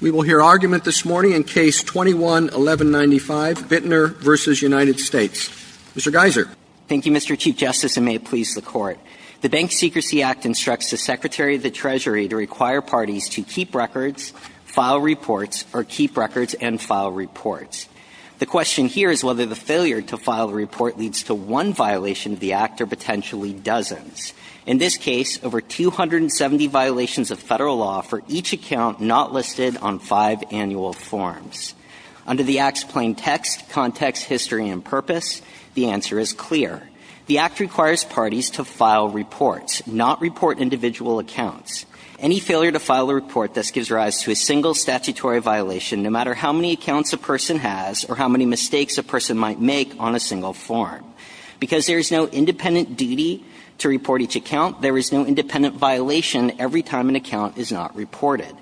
We will hear argument this morning in Case 21-1195, Bittner v. United States. Mr. Geiser. Thank you, Mr. Chief Justice, and may it please the Court. The Bank Secrecy Act instructs the Secretary of the Treasury to require parties to keep records, file reports, or keep records and file reports. The question here is whether the failure to file a report leads to one violation of the Act or potentially dozens. In this case, over 270 violations of federal law for each account not listed on five annual forms. Under the Act's plain text, context, history, and purpose, the answer is clear. The Act requires parties to file reports, not report individual accounts. Any failure to file a report thus gives rise to a single statutory violation, no matter how many accounts a person has or how many mistakes a person might make on a single form. Because there is no independent duty to report each account, there is no independent violation every time an account is not reported.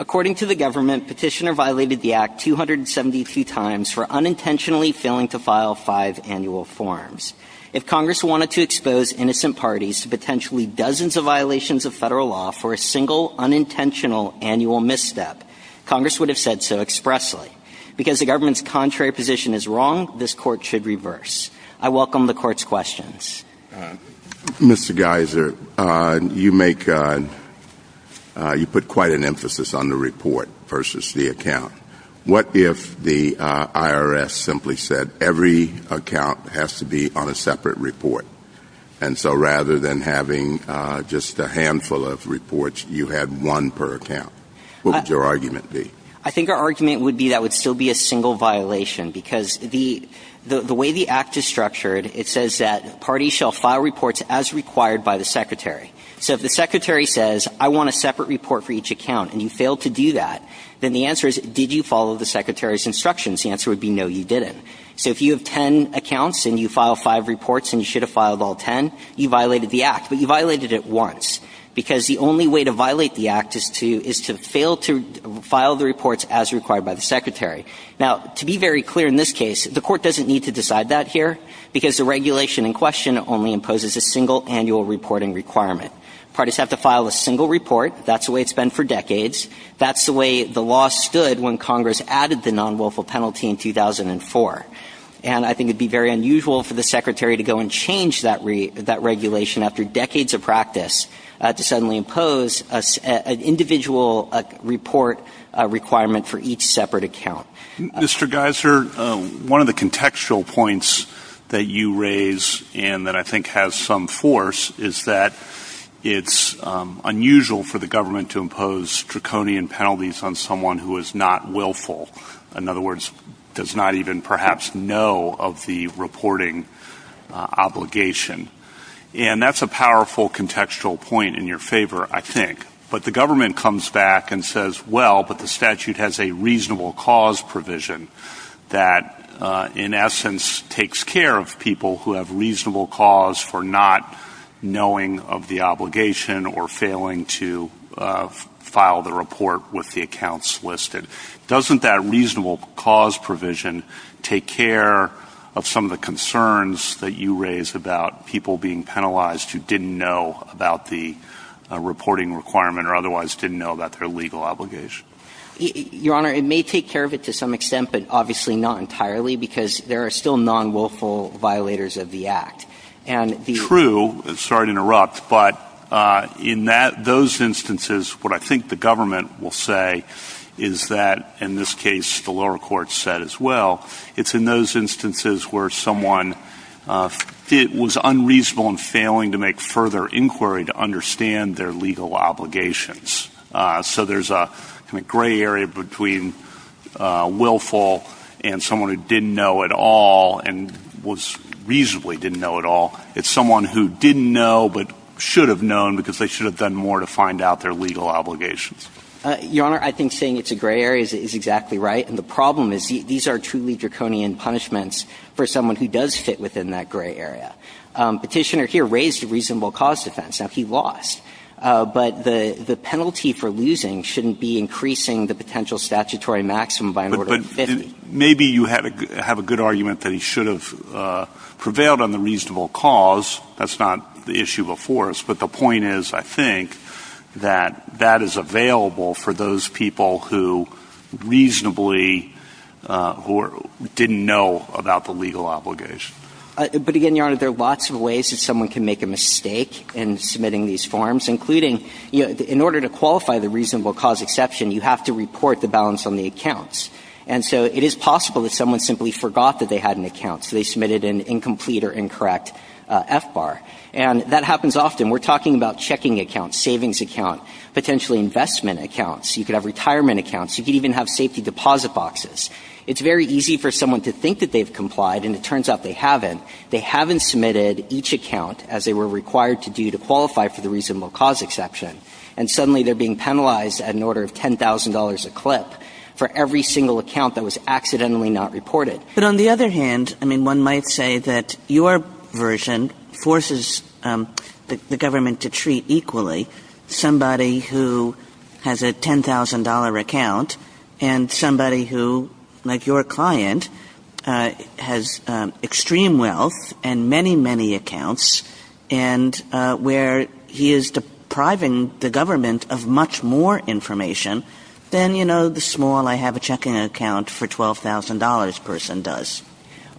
According to the government, Petitioner violated the Act 272 times for unintentionally failing to file five annual forms. If Congress wanted to expose innocent parties to potentially dozens of violations of federal law for a single unintentional annual misstep, Congress would have said so expressly. Because the government's contrary position is wrong, this Court should reverse. I welcome the Court's questions. Mr. Geiser, you put quite an emphasis on the report versus the account. What if the IRS simply said every account has to be on a separate report? And so rather than having just a handful of reports, you had one per account. What would your argument be? I think our argument would be that would still be a single violation. Because the way the Act is structured, it says that parties shall file reports as required by the Secretary. So if the Secretary says, I want a separate report for each account, and you fail to do that, then the answer is, did you follow the Secretary's instructions? The answer would be no, you didn't. So if you have ten accounts and you file five reports and you should have filed all ten, you violated the Act. But you violated it once. Because the only way to violate the Act is to fail to file the reports as required by the Secretary. Now, to be very clear in this case, the Court doesn't need to decide that here, because the regulation in question only imposes a single annual reporting requirement. Parties have to file a single report. That's the way it's been for decades. That's the way the law stood when Congress added the non-lawful penalty in 2004. And I think it would be very unusual for the Secretary to go and change that regulation after decades of practice to suddenly impose an individual report requirement for each separate account. Mr. Geiser, one of the contextual points that you raise, and that I think has some force, is that it's unusual for the government to impose draconian penalties on someone who is not willful. In other words, does not even perhaps know of the reporting obligation. And that's a powerful contextual point in your favor, I think. But the government comes back and says, well, but the statute has a reasonable cause provision that, in essence, takes care of people who have reasonable cause for not knowing of the obligation or failing to file the report with the accounts listed. Doesn't that reasonable cause provision take care of some of the concerns that you raise about people being penalized who didn't know about the reporting requirement or otherwise didn't know about their legal obligation? Your Honor, it may take care of it to some extent, but obviously not entirely because there are still non-willful violators of the Act. True. Sorry to interrupt. But in those instances, what I think the government will say is that, in this case, the lower court said as well, it's in those instances where someone was unreasonable and failing to make further inquiry to understand their legal obligations. So there's a gray area between willful and someone who didn't know at all and reasonably didn't know at all. It's someone who didn't know but should have known because they should have done more to find out their legal obligations. Your Honor, I think saying it's a gray area is exactly right. And the problem is these are truly draconian punishments for someone who does fit within that gray area. Petitioner here raised the reasonable cause defense. Now, he lost. But the penalty for losing shouldn't be increasing the potential statutory maximum by more than 50. Maybe you have a good argument that he should have prevailed on the reasonable cause. That's not the issue before us. But the point is, I think, that that is available for those people who reasonably didn't know about the legal obligation. But again, Your Honor, there are lots of ways that someone can make a mistake in submitting these forms, including in order to qualify the reasonable cause exception, you have to report the balance on the accounts. And so it is possible that someone simply forgot that they had an account, so they submitted an incomplete or incorrect FBAR. And that happens often. We're talking about checking accounts, savings accounts, potentially investment accounts. You could have retirement accounts. You could even have safety deposit boxes. It's very easy for someone to think that they've complied, and it turns out they haven't. They haven't submitted each account as they were required to do to qualify for the reasonable cause exception. And suddenly they're being penalized in order of $10,000 a clip for every single account that was accidentally not reported. But on the other hand, I mean, one might say that your version forces the government to treat equally somebody who has a $10,000 account and somebody who, like your client, has extreme wealth and many, many accounts and where he is depriving the government of much more information than, you know, the small, I-have-a-checking-account-for-$12,000 person does.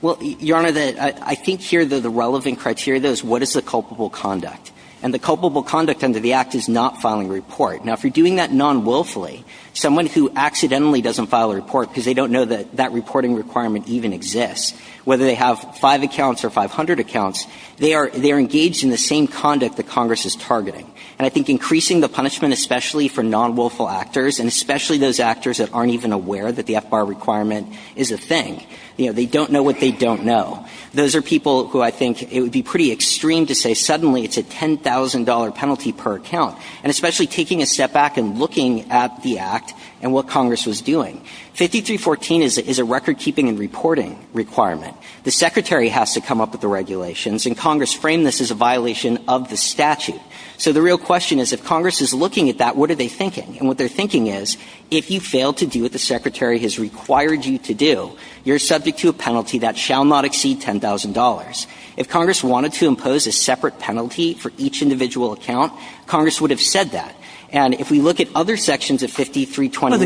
Well, Your Honor, I think here that the relevant criteria is what is the culpable conduct. And the culpable conduct under the Act is not filing a report. Now, if you're doing that non-wilfully, someone who accidentally doesn't file a report because they don't know that that reporting requirement even exists, whether they have five accounts or 500 accounts, they are engaged in the same conduct that Congress is targeting. And I think increasing the punishment, especially for non-wilful actors, and especially those actors that aren't even aware that the FBAR requirement is a thing, you know, they don't know what they don't know. Those are people who I think it would be pretty extreme to say suddenly it's a $10,000 penalty per account, and especially taking a step back and looking at the Act and what Congress was doing. 5314 is a record-keeping-and-reporting requirement. The Secretary has to come up with the regulations, and Congress framed this as a violation of the statute. So the real question is if Congress is looking at that, what are they thinking? And what they're thinking is if you fail to do what the Secretary has required you to do, you're subject to a penalty that shall not exceed $10,000. If Congress wanted to impose a separate penalty for each individual account, Congress would have said that. And if we look at other sections of 5321...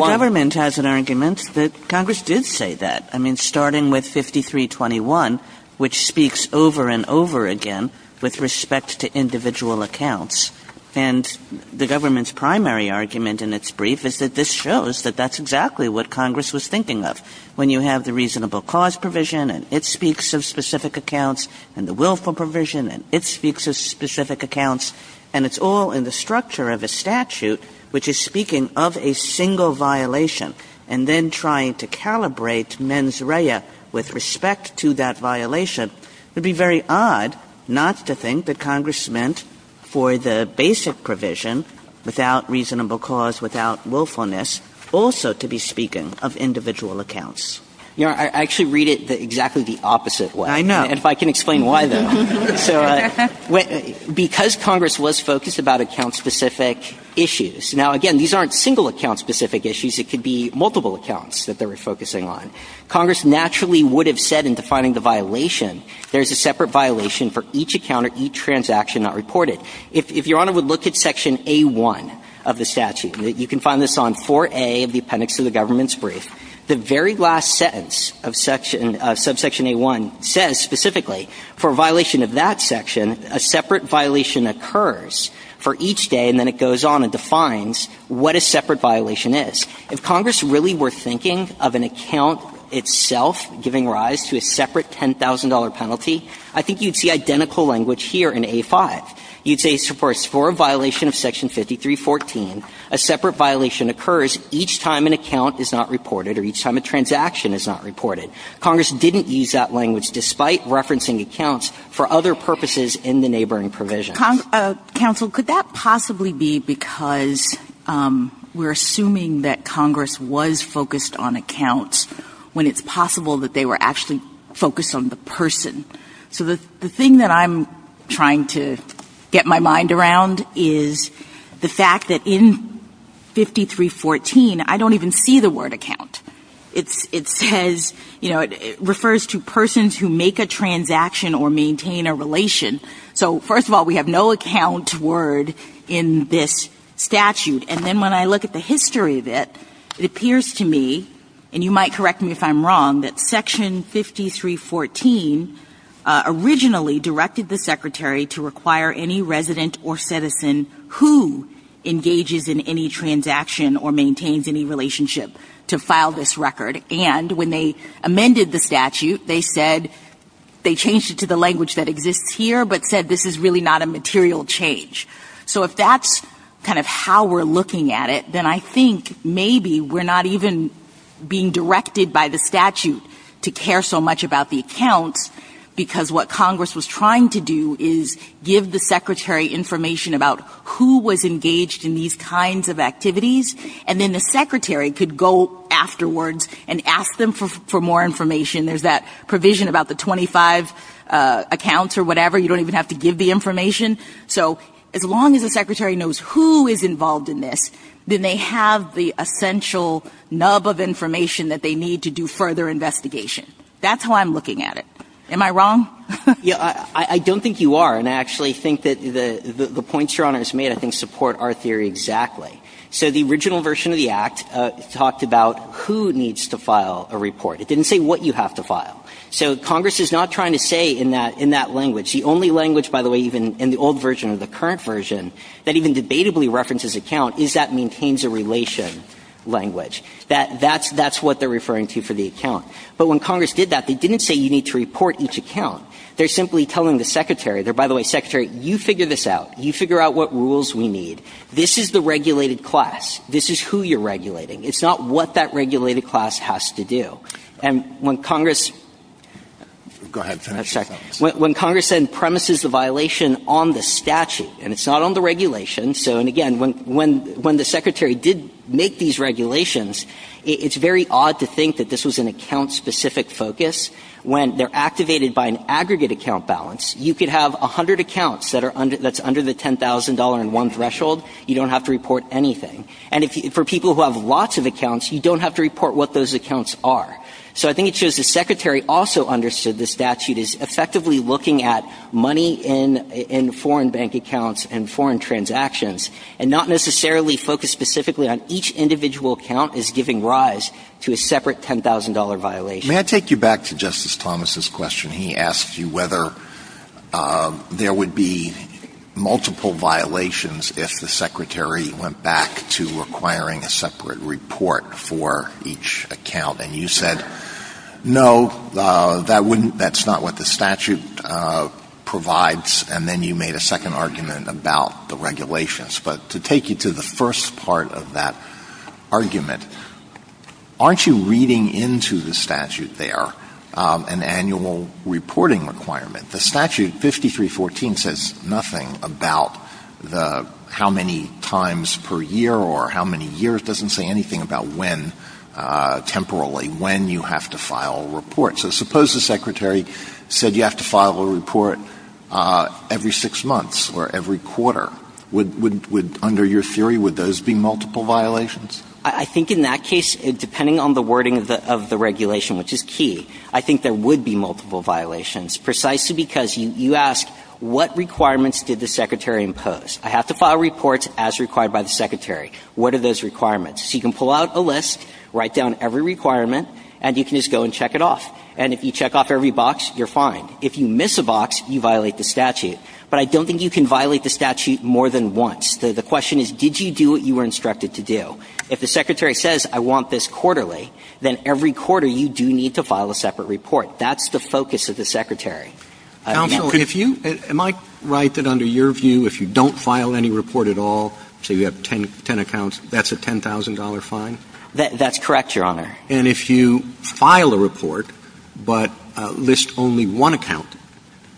Congress did say that, I mean, starting with 5321, which speaks over and over again with respect to individual accounts. And the government's primary argument in its brief is that this shows that that's exactly what Congress was thinking of. When you have the reasonable cause provision, and it speaks of specific accounts, and the willful provision, and it speaks of specific accounts, and it's all in the structure of the statute, which is speaking of a single violation, and then trying to calibrate mens rea with respect to that violation, it would be very odd not to think that Congress meant for the basic provision, without reasonable cause, without willfulness, also to be speaking of individual accounts. You know, I actually read it exactly the opposite way. I know. If I can explain why, then. Because Congress was focused about account-specific issues. Now, again, these aren't single account-specific issues. It could be multiple accounts that they were focusing on. Congress naturally would have said in defining the violation, there's a separate violation for each account or each transaction not reported. If Your Honor would look at Section A1 of the statute, you can find this on 4A of the appendix of the government's brief, the very last sentence of Subsection A1 says specifically, for a violation of that section, a separate violation occurs for each day, and then it goes on and defines what a separate violation is. If Congress really were thinking of an account itself giving rise to a separate $10,000 penalty, I think you'd see identical language here in A5. You'd say, for a score violation of Section 5314, a separate violation occurs each time an account is not reported or each time a transaction is not reported. Congress didn't use that language despite referencing accounts for other purposes in the neighboring provision. Counsel, could that possibly be because we're assuming that Congress was focused on accounts when it's possible that they were actually focused on the person? So the thing that I'm trying to get my mind around is the fact that in 5314, I don't even see the word account. It says, you know, it refers to persons who make a transaction or maintain a relation. So first of all, we have no account word in this statute. And then when I look at the history of it, it appears to me, and you might correct me if I'm wrong, that Section 5314 originally directed the Secretary to require any resident or citizen who engages in any transaction or maintains any relationship to file this record. And when they amended the statute, they said they changed it to the language that exists here but said this is really not a material change. So if that's kind of how we're looking at it, then I think maybe we're not even being directed by the statute to care so much about the account because what Congress was trying to do is give the Secretary information about who was engaged in these kinds of activities, and then the Secretary could go afterwards and ask them for more information. There's that provision about the 25 accounts or whatever. You don't even have to give the information. So as long as the Secretary knows who is involved in this, then they have the essential nub of information that they need to do further investigation. That's how I'm looking at it. Am I wrong? I don't think you are, and I actually think that the points your Honor has made, I think, support our theory exactly. So the original version of the Act talked about who needs to file a report. It didn't say what you have to file. So Congress is not trying to say in that language. It's the only language, by the way, even in the old version or the current version, that even debatably references account is that maintains a relation language. That's what they're referring to for the account. But when Congress did that, they didn't say you need to report each account. They're simply telling the Secretary, by the way, Secretary, you figure this out. You figure out what rules we need. This is the regulated class. This is who you're regulating. It's not what that regulated class has to do. Go ahead. When Congress then premises the violation on the statute, and it's not on the regulation, and again, when the Secretary did make these regulations, it's very odd to think that this was an account-specific focus. When they're activated by an aggregate account balance, you could have 100 accounts that's under the $10,000 in one threshold. You don't have to report anything. And for people who have lots of accounts, you don't have to report what those accounts are. So I think it shows the Secretary also understood the statute is effectively looking at money in foreign bank accounts and foreign transactions and not necessarily focused specifically on each individual account is giving rise to a separate $10,000 violation. May I take you back to Justice Thomas's question? He asked you whether there would be multiple violations if the Secretary went back to requiring a separate report for each account. And you said, no, that's not what the statute provides. And then you made a second argument about the regulations. But to take you to the first part of that argument, aren't you reading into the statute there an annual reporting requirement? The statute, 5314, says nothing about how many times per year or how many years. It doesn't say anything about when, temporarily, when you have to file a report. So suppose the Secretary said you have to file a report every six months or every quarter. Under your theory, would those be multiple violations? I think in that case, depending on the wording of the regulation, which is key, I think there would be multiple violations precisely because you ask, what requirements did the Secretary impose? I have to file a report as required by the Secretary. What are those requirements? So you can pull out a list, write down every requirement, and you can just go and check it off. And if you check off every box, you're fine. If you miss a box, you violate the statute. But I don't think you can violate the statute more than once. The question is, did you do what you were instructed to do? If the Secretary says, I want this quarterly, then every quarter you do need to file a separate report. That's the focus of the Secretary. Counsel, am I right that under your view, if you don't file any report at all, say you have 10 accounts, that's a $10,000 fine? That's correct, Your Honor. And if you file a report but list only one account,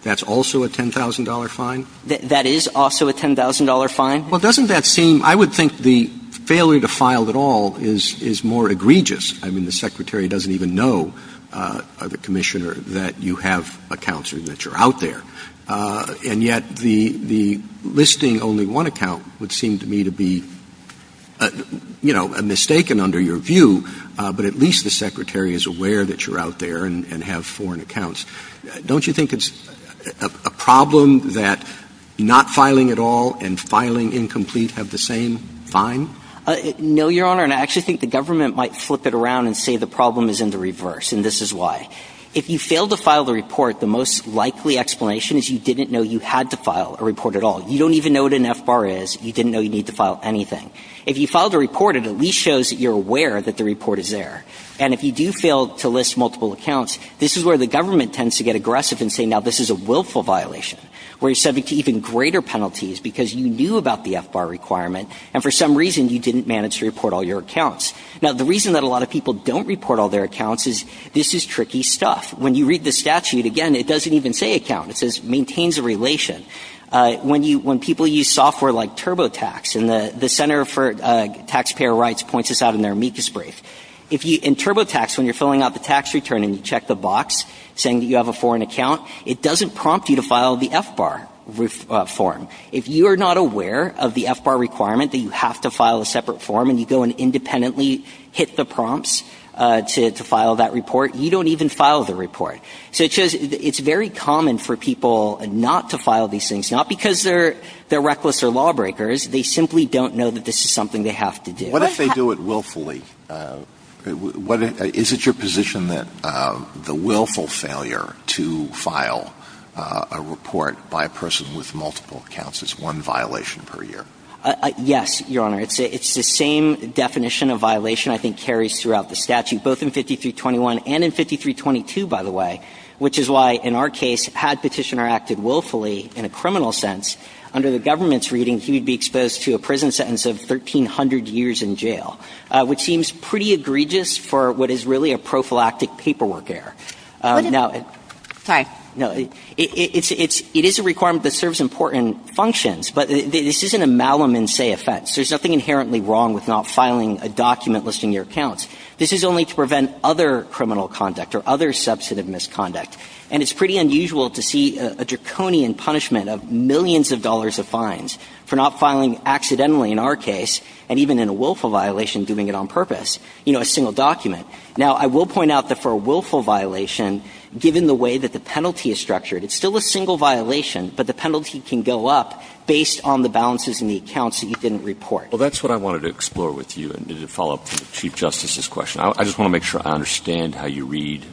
that's also a $10,000 fine? That is also a $10,000 fine? Well, doesn't that seem – I would think the failure to file at all is more egregious. I mean, the Secretary doesn't even know, Commissioner, that you have accounts or that you're out there. And yet the listing only one account would seem to me to be, you know, a mistake and under your view, but at least the Secretary is aware that you're out there and have foreign accounts. Don't you think it's a problem that not filing at all and filing incomplete have the same fine? No, Your Honor, and I actually think the government might flip it around and say the problem is in the reverse, and this is why. If you fail to file the report, the most likely explanation is you didn't know you had to file a report at all. You don't even know what an F-bar is. You didn't know you need to file anything. If you file the report, it at least shows that you're aware that the report is there. And if you do fail to list multiple accounts, this is where the government tends to get aggressive and say now this is a willful violation, where you're subject to even greater penalties because you knew about the F-bar requirement, and for some reason you didn't manage to report all your accounts. Now, the reason that a lot of people don't report all their accounts is this is tricky stuff. When you read the statute, again, it doesn't even say account. It says maintains a relation. When people use software like TurboTax, and the Center for Taxpayer Rights points this out in their amicus brief, in TurboTax, when you're filling out the tax return and you check the box saying that you have a foreign account, it doesn't prompt you to file the F-bar form. If you are not aware of the F-bar requirement that you have to file a separate form and you go and independently hit the prompts to file that report, you don't even file the report. So it's very common for people not to file these things, not because they're reckless or lawbreakers. They simply don't know that this is something they have to do. What if they do it willfully? Is it your position that the willful failure to file a report by a person with multiple accounts is one violation per year? Yes, Your Honor. It's the same definition of violation I think carries throughout the statute, both in 5321 and in 5322, by the way, which is why, in our case, had Petitioner acted willfully in a criminal sense, under the government's reading, he would be exposed to a prison sentence of 1,300 years in jail, which seems pretty egregious for what is really a prophylactic paperwork error. Hi. It is a requirement that serves important functions, but this isn't a malum in se effects. There's nothing inherently wrong with not filing a document listing your accounts. This is only to prevent other criminal conduct or other substantive misconduct. And it's pretty unusual to see a draconian punishment of millions of dollars of fines for not filing accidentally, in our case, and even in a willful violation, doing it on purpose, you know, a single document. Now, I will point out that for a willful violation, given the way that the penalty is structured, it's still a single violation, but the penalty can go up based on the balances in the accounts that you didn't report. Well, that's what I wanted to explore with you and to follow up with the Chief Justice's question. I just want to make sure I understand how you read.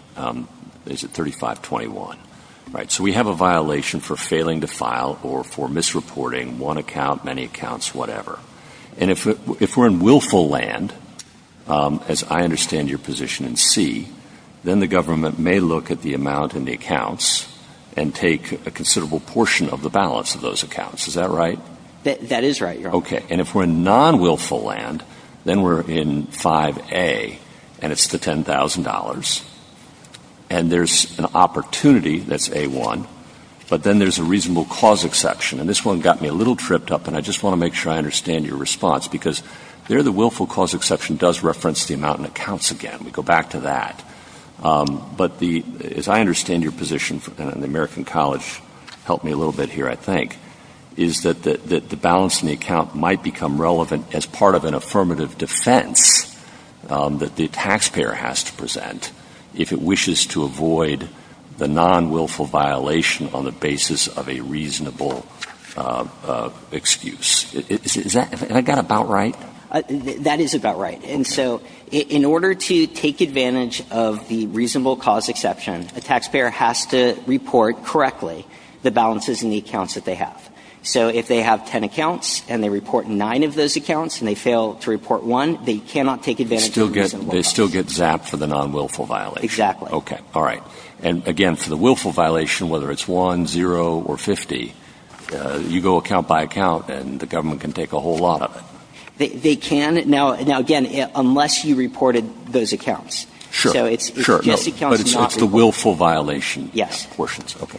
Is it 3521? All right. So we have a violation for failing to file or for misreporting one account, many accounts, whatever. And if we're in willful land, as I understand your position in C, then the government may look at the amount in the accounts and take a considerable portion of the balance of those accounts. That is right, Your Honor. Okay. And if we're in non-willful land, then we're in 5A, and it's the $10,000. And there's an opportunity that's A1, but then there's a reasonable cause exception. And this one got me a little tripped up, and I just want to make sure I understand your response, because there the willful cause exception does reference the amount in the accounts again. We go back to that. But as I understand your position, and the American College helped me a little bit here, I think, is that the balance in the account might become relevant as part of an affirmative defense that the taxpayer has to present if it wishes to avoid the non-willful violation on the basis of a reasonable excuse. Is that about right? That is about right. And so in order to take advantage of the reasonable cause exception, a taxpayer has to report correctly the balances in the accounts that they have. So if they have 10 accounts, and they report 9 of those accounts, and they fail to report 1, they cannot take advantage of the reasonable cause exception. They still get zapped for the non-willful violation. Exactly. Okay. All right. And again, for the willful violation, whether it's 1, 0, or 50, you go account by account, and the government can take a whole lot of it. They can. Now, again, unless you reported those accounts. Sure. But it's the willful violation. Yes.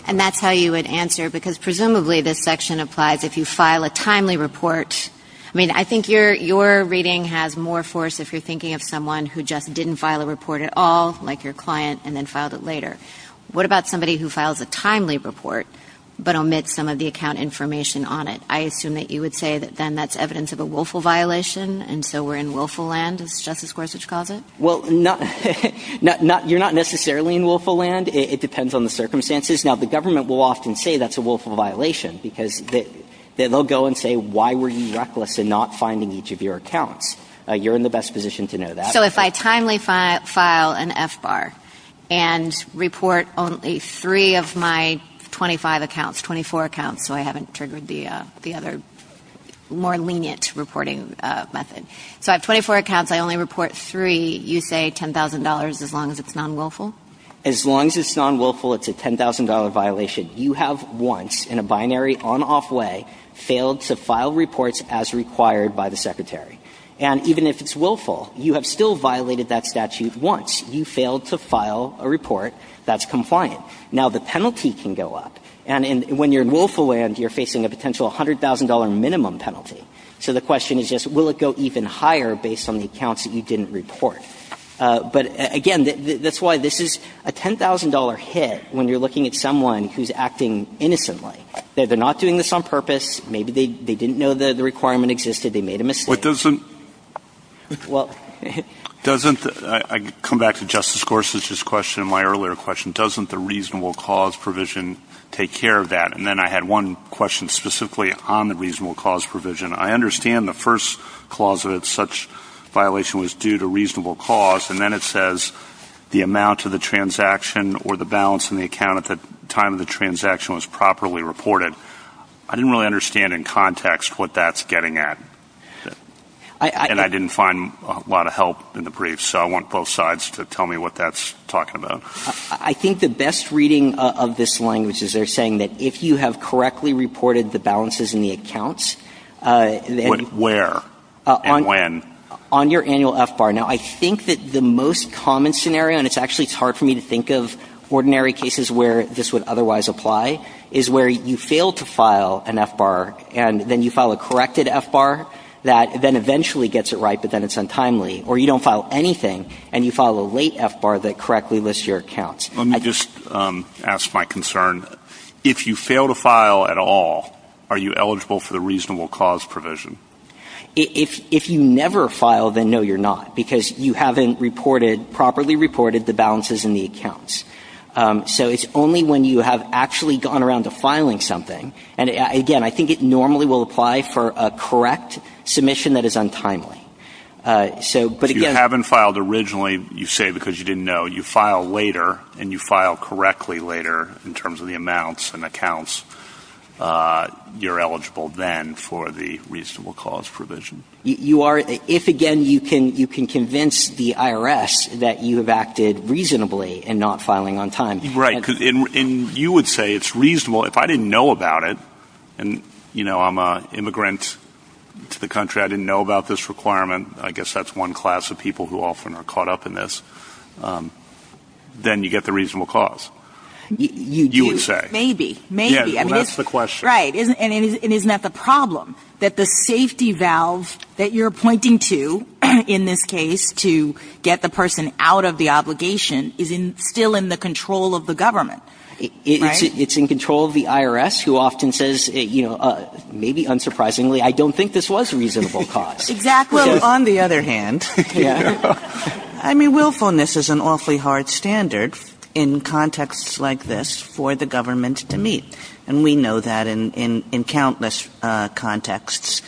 And that's how you would answer, because presumably this section applies if you file a timely report. I mean, I think your reading has more force if you're thinking of someone who just didn't file a report at all, like your client, and then filed it later. What about somebody who files a timely report, but omits some of the account information on it? I assume that you would say that then that's evidence of a willful violation, and so we're in willful land, as Justice Gorsuch calls it? Well, you're not necessarily in willful land. It depends on the circumstances. Now, the government will often say that's a willful violation, because they'll go and say, why were you reckless in not finding each of your accounts? You're in the best position to know that. So if I timely file an FBAR and report only three of my 25 accounts, 24 accounts, so I haven't triggered the other more lenient reporting method. So I have 24 accounts. I only report three. You say $10,000 as long as it's non-willful? As long as it's non-willful, it's a $10,000 violation. You have once, in a binary on-off way, failed to file reports as required by the Secretary. And even if it's willful, you have still violated that statute once. You failed to file a report that's compliant. Now, the penalty can go up. And when you're in willful land, you're facing a potential $100,000 minimum penalty. So the question is just, will it go even higher based on the accounts that you didn't report? But, again, that's why this is a $10,000 hit when you're looking at someone who's acting innocently. They're not doing this on purpose. Maybe they didn't know that the requirement existed. They made a mistake. But doesn't – well – Doesn't – I come back to Justice Gorsuch's question, my earlier question. Doesn't the reasonable cause provision take care of that? And then I had one question specifically on the reasonable cause provision. I understand the first clause of it, such violation was due to reasonable cause. And then it says the amount of the transaction or the balance in the account at the time of the transaction was properly reported. I didn't really understand in context what that's getting at. And I didn't find a lot of help in the brief. So I want both sides to tell me what that's talking about. I think the best reading of this language is they're saying that if you have correctly reported the balances in the accounts – Where and when? On your annual FBAR. Now, I think that the most common scenario – and it's actually hard for me to think of ordinary cases where this would otherwise apply – is where you fail to file an FBAR, and then you file a corrected FBAR that then eventually gets it right, but then it's untimely. Or you don't file anything, and you file a late FBAR that correctly lists your accounts. Let me just ask my concern. If you fail to file at all, are you eligible for the reasonable cause provision? If you never file, then no, you're not. Because you haven't properly reported the balances in the accounts. So it's only when you have actually gone around to filing something. And again, I think it normally will apply for a correct submission that is untimely. If you haven't filed originally, you say because you didn't know, you file later, and you file correctly later in terms of the amounts and accounts, you're eligible then for the reasonable cause provision. If, again, you can convince the IRS that you have acted reasonably in not filing on time. Right. And you would say it's reasonable. Well, if I didn't know about it, and, you know, I'm an immigrant to the country. I didn't know about this requirement. I guess that's one class of people who often are caught up in this. Then you get the reasonable cause, you would say. Maybe. Maybe. That's the question. Right. And isn't that the problem? That the safety valve that you're pointing to in this case to get the person out of the obligation is still in the control of the government. It's in control of the IRS, who often says, you know, maybe unsurprisingly, I don't think this was a reasonable cause. Exactly. Well, on the other hand, I mean, willfulness is an awfully hard standard in contexts like this for the government to meet. And we know that in countless contexts.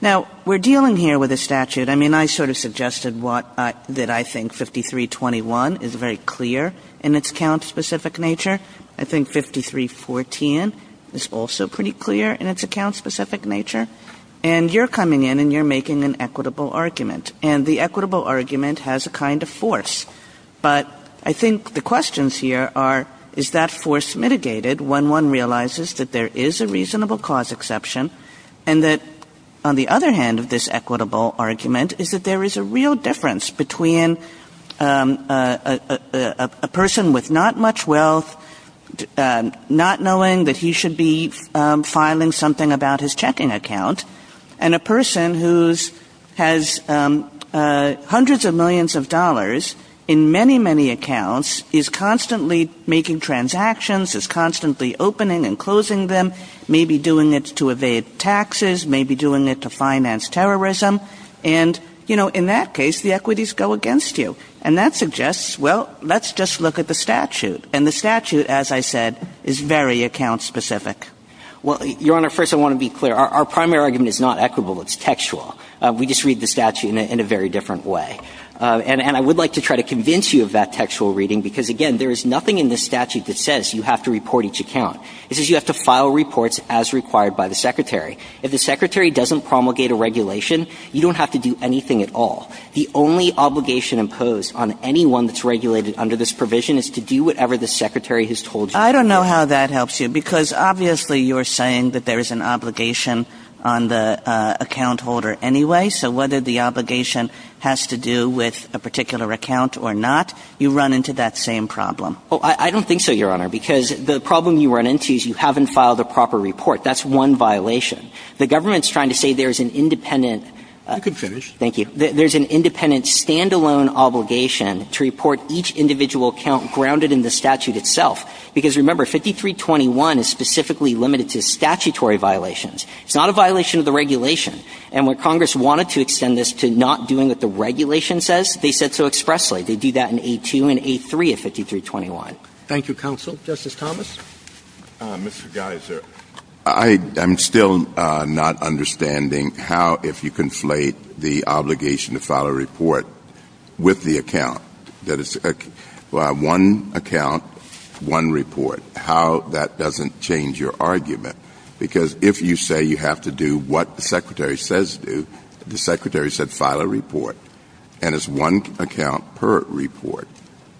Now, we're dealing here with a statute. I mean, I sort of suggested that I think 5321 is very clear in its account-specific nature. I think 5314 is also pretty clear in its account-specific nature. And you're coming in and you're making an equitable argument. And the equitable argument has a kind of force. But I think the questions here are, is that force mitigated when one realizes that there is a reasonable cause exception, and that on the other hand of this equitable argument is that there is a real difference between a person with not much wealth, not knowing that he should be filing something about his checking account, and a person who has hundreds of millions of dollars in many, many accounts, is constantly making transactions, is constantly opening and closing them, maybe doing it to evade taxes, maybe doing it to finance terrorism. And, you know, in that case, the equities go against you. And that suggests, well, let's just look at the statute. And the statute, as I said, is very account-specific. Well, Your Honor, first I want to be clear. Our primary argument is not equitable, it's textual. We just read the statute in a very different way. And I would like to try to convince you of that textual reading, because, again, there is nothing in this statute that says you have to report each account. It says you have to file reports as required by the secretary. If the secretary doesn't promulgate a regulation, you don't have to do anything at all. The only obligation imposed on anyone that's regulated under this provision is to do whatever the secretary has told you. I don't know how that helps you, because obviously you're saying that there is an obligation on the account holder anyway. So whether the obligation has to do with a particular account or not, you run into that same problem. Oh, I don't think so, Your Honor, because the problem you run into is you haven't filed a proper report. That's one violation. The government's trying to say there's an independent- You can finish. Thank you. There's an independent, stand-alone obligation to report each individual account grounded in the statute itself. Because, remember, 5321 is specifically limited to statutory violations. It's not a violation of the regulation. And when Congress wanted to extend this to not doing what the regulation says, they said so expressly. They do that in A2 and A3 of 5321. Thank you, counsel. Justice Thomas? Mr. Gattas, I'm still not understanding how, if you conflate the obligation to file a report with the account, that it's one account, one report, how that doesn't change your argument. Because if you say you have to do what the Secretary says to do, the Secretary said file a report, and it's one account per report.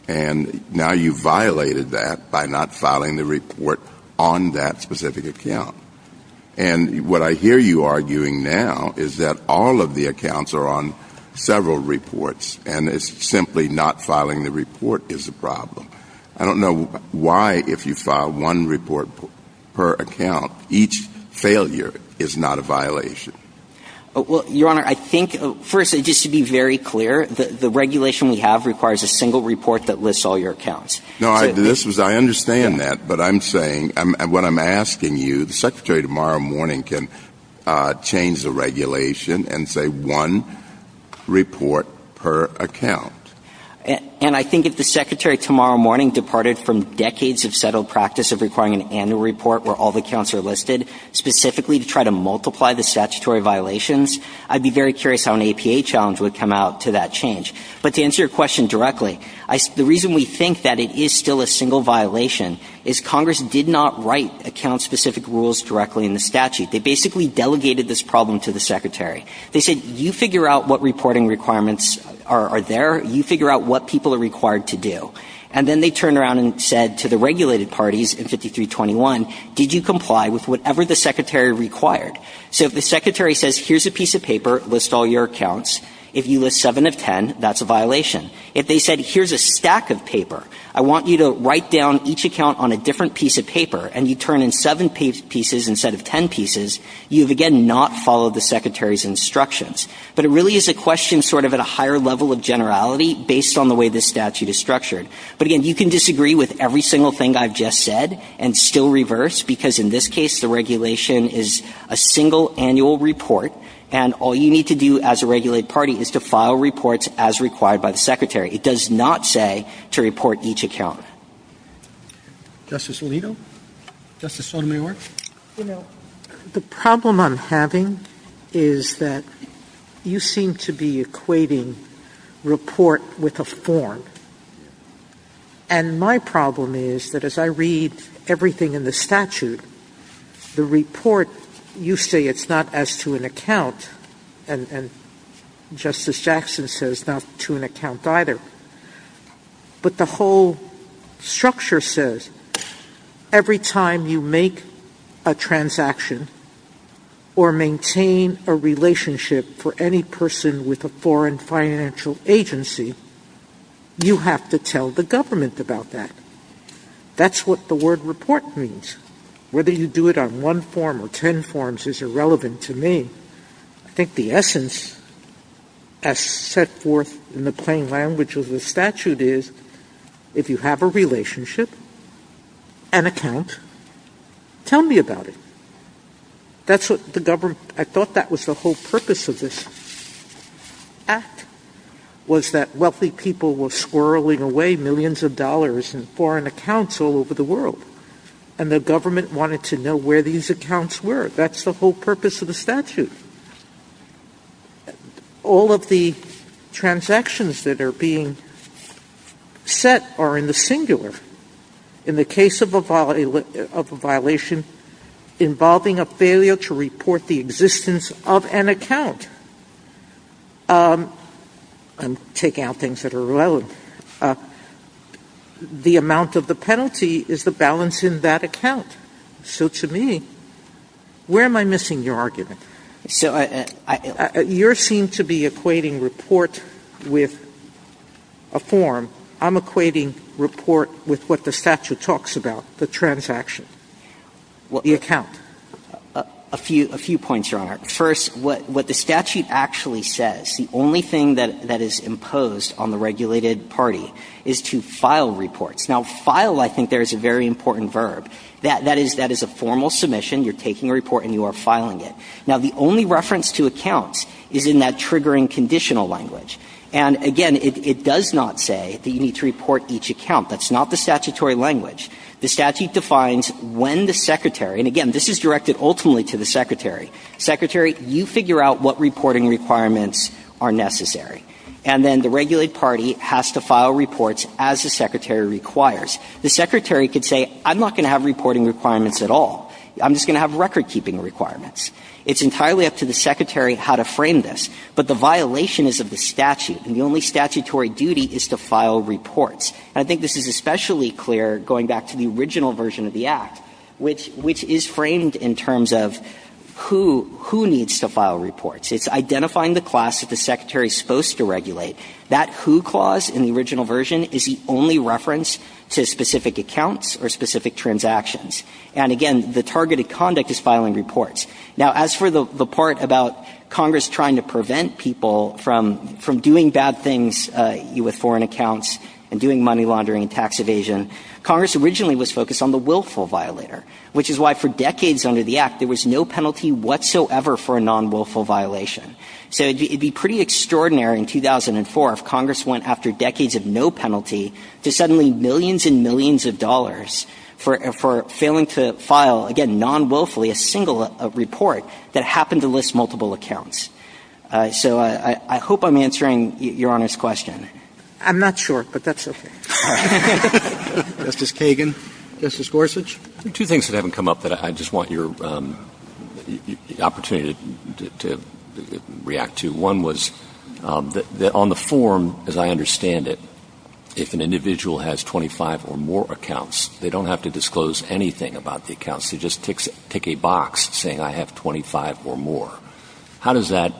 And now you've violated that by not filing the report on that specific account. And what I hear you arguing now is that all of the accounts are on several reports, and it's simply not filing the report is the problem. I don't know why, if you file one report per account, each failure is not a violation. Well, Your Honor, I think, first, just to be very clear, the regulation we have requires a single report that lists all your accounts. No, I understand that. But I'm saying, what I'm asking you, the Secretary tomorrow morning can change the regulation and say one report per account. And I think if the Secretary tomorrow morning departed from decades of settled practice of requiring an annual report where all the accounts are listed, specifically to try to multiply the statutory violations, I'd be very curious how an APA challenge would come out to that change. But to answer your question directly, the reason we think that it is still a single violation is Congress did not write account-specific rules directly in the statute. They basically delegated this problem to the Secretary. They said, you figure out what reporting requirements are there, you figure out what people are required to do. And then they turned around and said to the regulated parties in 5321, did you comply with whatever the Secretary required? So if the Secretary says, here's a piece of paper, list all your accounts, if you list seven of ten, that's a violation. If they said, here's a stack of paper, I want you to write down each account on a different piece of paper, and you turn in seven pieces instead of ten pieces, you've again not followed the Secretary's instructions. But it really is a question sort of at a higher level of generality based on the way this statute is structured. But again, you can disagree with every single thing I've just said and still reverse, because in this case the regulation is a single annual report, and all you need to do as a regulated party is to file reports as required by the Secretary. It does not say to report each account. Justice Alito? Justice Sotomayor? The problem I'm having is that you seem to be equating report with a form. And my problem is that as I read everything in the statute, the report, you say it's not as to an account, and Justice Jackson says not to an account either. But the whole structure says every time you make a transaction or maintain a relationship for any person with a foreign financial agency, you have to tell the government about that. That's what the word report means. Whether you do it on one form or ten forms is irrelevant to me. I think the essence as set forth in the plain language of the statute is if you have a relationship, an account, tell me about it. I thought that was the whole purpose of this act was that wealthy people were swirling away millions of dollars in foreign accounts all over the world, and the government wanted to know where these accounts were. That's the whole purpose of the statute. All of the transactions that are being set are in the singular. In the case of a violation involving a failure to report the existence of an account, I'm taking out things that are relevant, the amount of the penalty is the balance in that account. So to me, where am I missing your argument? You seem to be equating report with a form. I'm equating report with what the statute talks about, the transaction, the account. A few points, Your Honor. First, what the statute actually says, the only thing that is imposed on the regulated party is to file reports. File, I think, is a very important verb. That is a formal submission. You're taking a report and you're filing it. The only reference to accounts is in that triggering conditional language. Again, it does not say that you need to report each account. That's not the statutory language. The statute defines when the secretary, and again, this is directed ultimately to the secretary. Secretary, you figure out what reporting requirements are necessary. And then the regulated party has to file reports as the secretary requires. The secretary could say, I'm not going to have reporting requirements at all. I'm just going to have record-keeping requirements. It's entirely up to the secretary how to frame this. But the violation is of the statute, and the only statutory duty is to file reports. I think this is especially clear going back to the original version of the Act, which is framed in terms of who needs to file reports. It's identifying the class that the secretary is supposed to regulate. That who clause in the original version is the only reference to specific accounts or specific transactions. And again, the targeted conduct is filing reports. Now, as for the part about Congress trying to prevent people from doing bad things with foreign accounts and doing money laundering and tax evasion, Congress originally was focused on the willful violator, which is why for decades under the Act, there was no penalty whatsoever for a non-willful violation. So it would be pretty extraordinary in 2004 if Congress went after decades of no penalty to suddenly millions and millions of dollars for failing to file, again, non-willfully, a single report that happened to list multiple accounts. So I hope I'm answering Your Honor's question. I'm not sure, but that's okay. Justice Kagan. Justice Gorsuch. Two things that haven't come up that I just want your opportunity to react to. One was on the form, as I understand it, if an individual has 25 or more accounts, they don't have to disclose anything about the accounts. They just pick a box saying I have 25 or more. How does that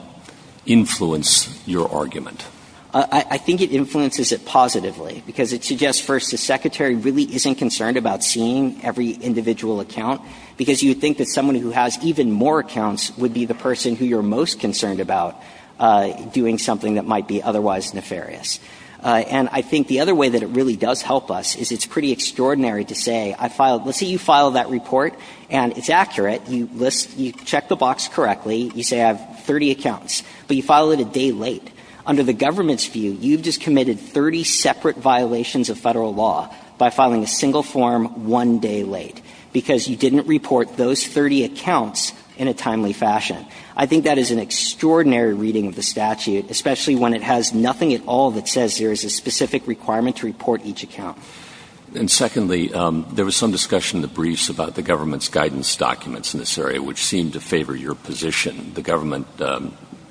influence your argument? The secretary really isn't concerned about seeing every individual account because you think that someone who has even more accounts would be the person who you're most concerned about doing something that might be otherwise nefarious. And I think the other way that it really does help us is it's pretty extraordinary to say, let's say you file that report and it's accurate. You check the box correctly. You say I have 30 accounts, but you file it a day late. Under the government's view, you've just committed 30 separate violations of federal law by filing a single form one day late because you didn't report those 30 accounts in a timely fashion. I think that is an extraordinary reading of the statute, especially when it has nothing at all that says there is a specific requirement to report each account. And secondly, there was some discussion in the briefs about the government's guidance documents in this area which seemed to favor your position. The government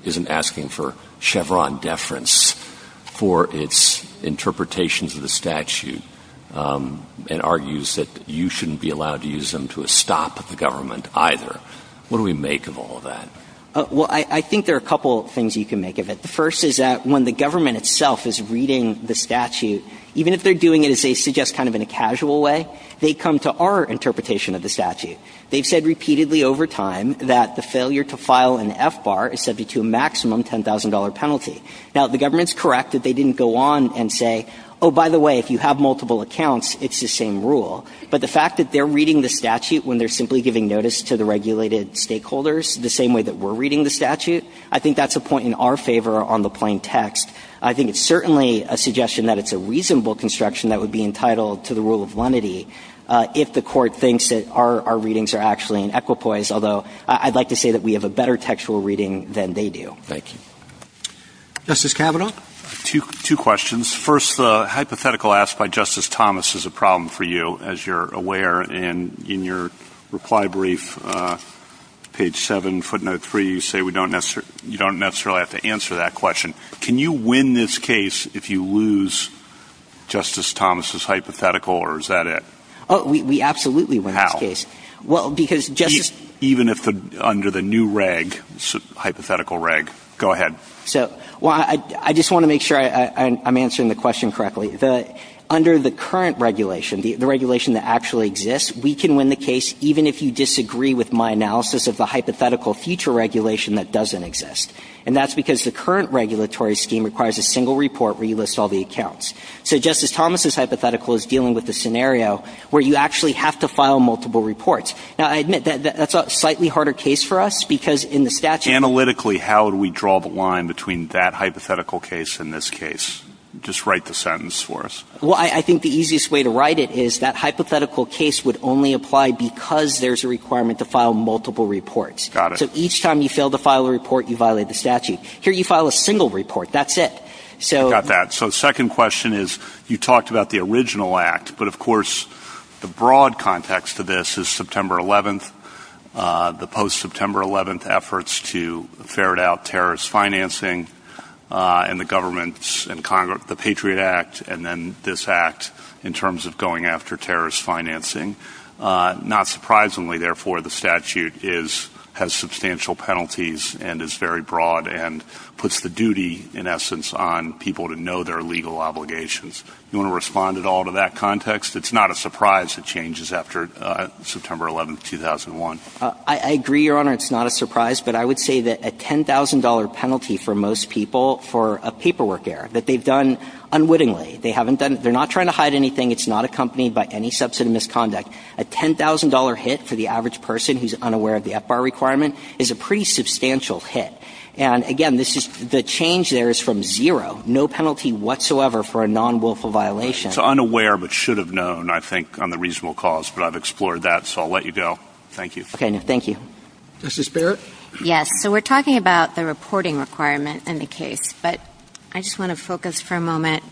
isn't asking for Chevron deference for its interpretations of the statute and argues that you shouldn't be allowed to use them to stop the government either. What do we make of all of that? Well, I think there are a couple of things you can make of it. The first is that when the government itself is reading the statute, even if they're doing it as they suggest kind of in a casual way, they come to our interpretation of the statute. They've said repeatedly over time that the failure to file an F-bar is subject to a maximum $10,000 penalty. Now, the government's correct that they didn't go on and say, oh, by the way, if you have multiple accounts, it's the same rule. But the fact that they're reading the statute when they're simply giving notice to the regulated stakeholders the same way that we're reading the statute, I think that's a point in our favor on the plain text. I think it's certainly a suggestion that it's a reasonable construction that would be entitled to the rule of lenity if the court thinks that our readings are actually in equipoise, although I'd like to say that we have a better textual reading than they do. Thank you. Justice Kavanaugh? Two questions. First, the hypothetical asked by Justice Thomas is a problem for you, as you're aware, and in your reply brief, page 7, footnote 3, you say you don't necessarily have to answer that question. Can you win this case if you lose Justice Thomas's hypothetical, or is that it? Oh, we absolutely win this case. How? Even under the new hypothetical reg? Go ahead. I just want to make sure I'm answering the question correctly. Under the current regulation, the regulation that actually exists, we can win the case even if you disagree with my analysis of the hypothetical future regulation that doesn't exist, and that's because the current regulatory scheme requires a single report where you list all the accounts. So Justice Thomas's hypothetical is dealing with the scenario where you actually have to file multiple reports. Now, I admit that that's a slightly harder case for us because in the statute... Analytically, how do we draw the line between that hypothetical case and this case? Just write the sentence for us. Well, I think the easiest way to write it is that hypothetical case would only apply because there's a requirement to file multiple reports. Got it. So each time you fail to file a report, you violate the statute. Here, you file a single report. That's it. Got that. So second question is you talked about the original act, but of course the broad context of this is September 11th, the post-September 11th efforts to ferret out terrorist financing and the government's Patriot Act, and then this act in terms of going after terrorist financing. Not surprisingly, therefore, the statute has substantial penalties and is very broad and puts the duty, in essence, on people to know their legal obligations. Do you want to respond at all to that context? It's not a surprise it changes after September 11th, 2001. I agree, Your Honor, it's not a surprise, but I would say that a $10,000 penalty for most people for a paperwork error that they've done unwittingly, they haven't done it. They're not trying to hide anything. It's not accompanied by any substantive misconduct. A $10,000 hit for the average person who's unaware of the FBAR requirement is a pretty substantial hit. Again, the change there is from zero. No penalty whatsoever for a non-wilful violation. It's unaware but should have known, I think, on the reasonable cause, but I've explored that, so I'll let you go. Thank you. Thank you. Justice Barrett? Yes, so we're talking about the reporting requirement in the case, but I just want to focus for a moment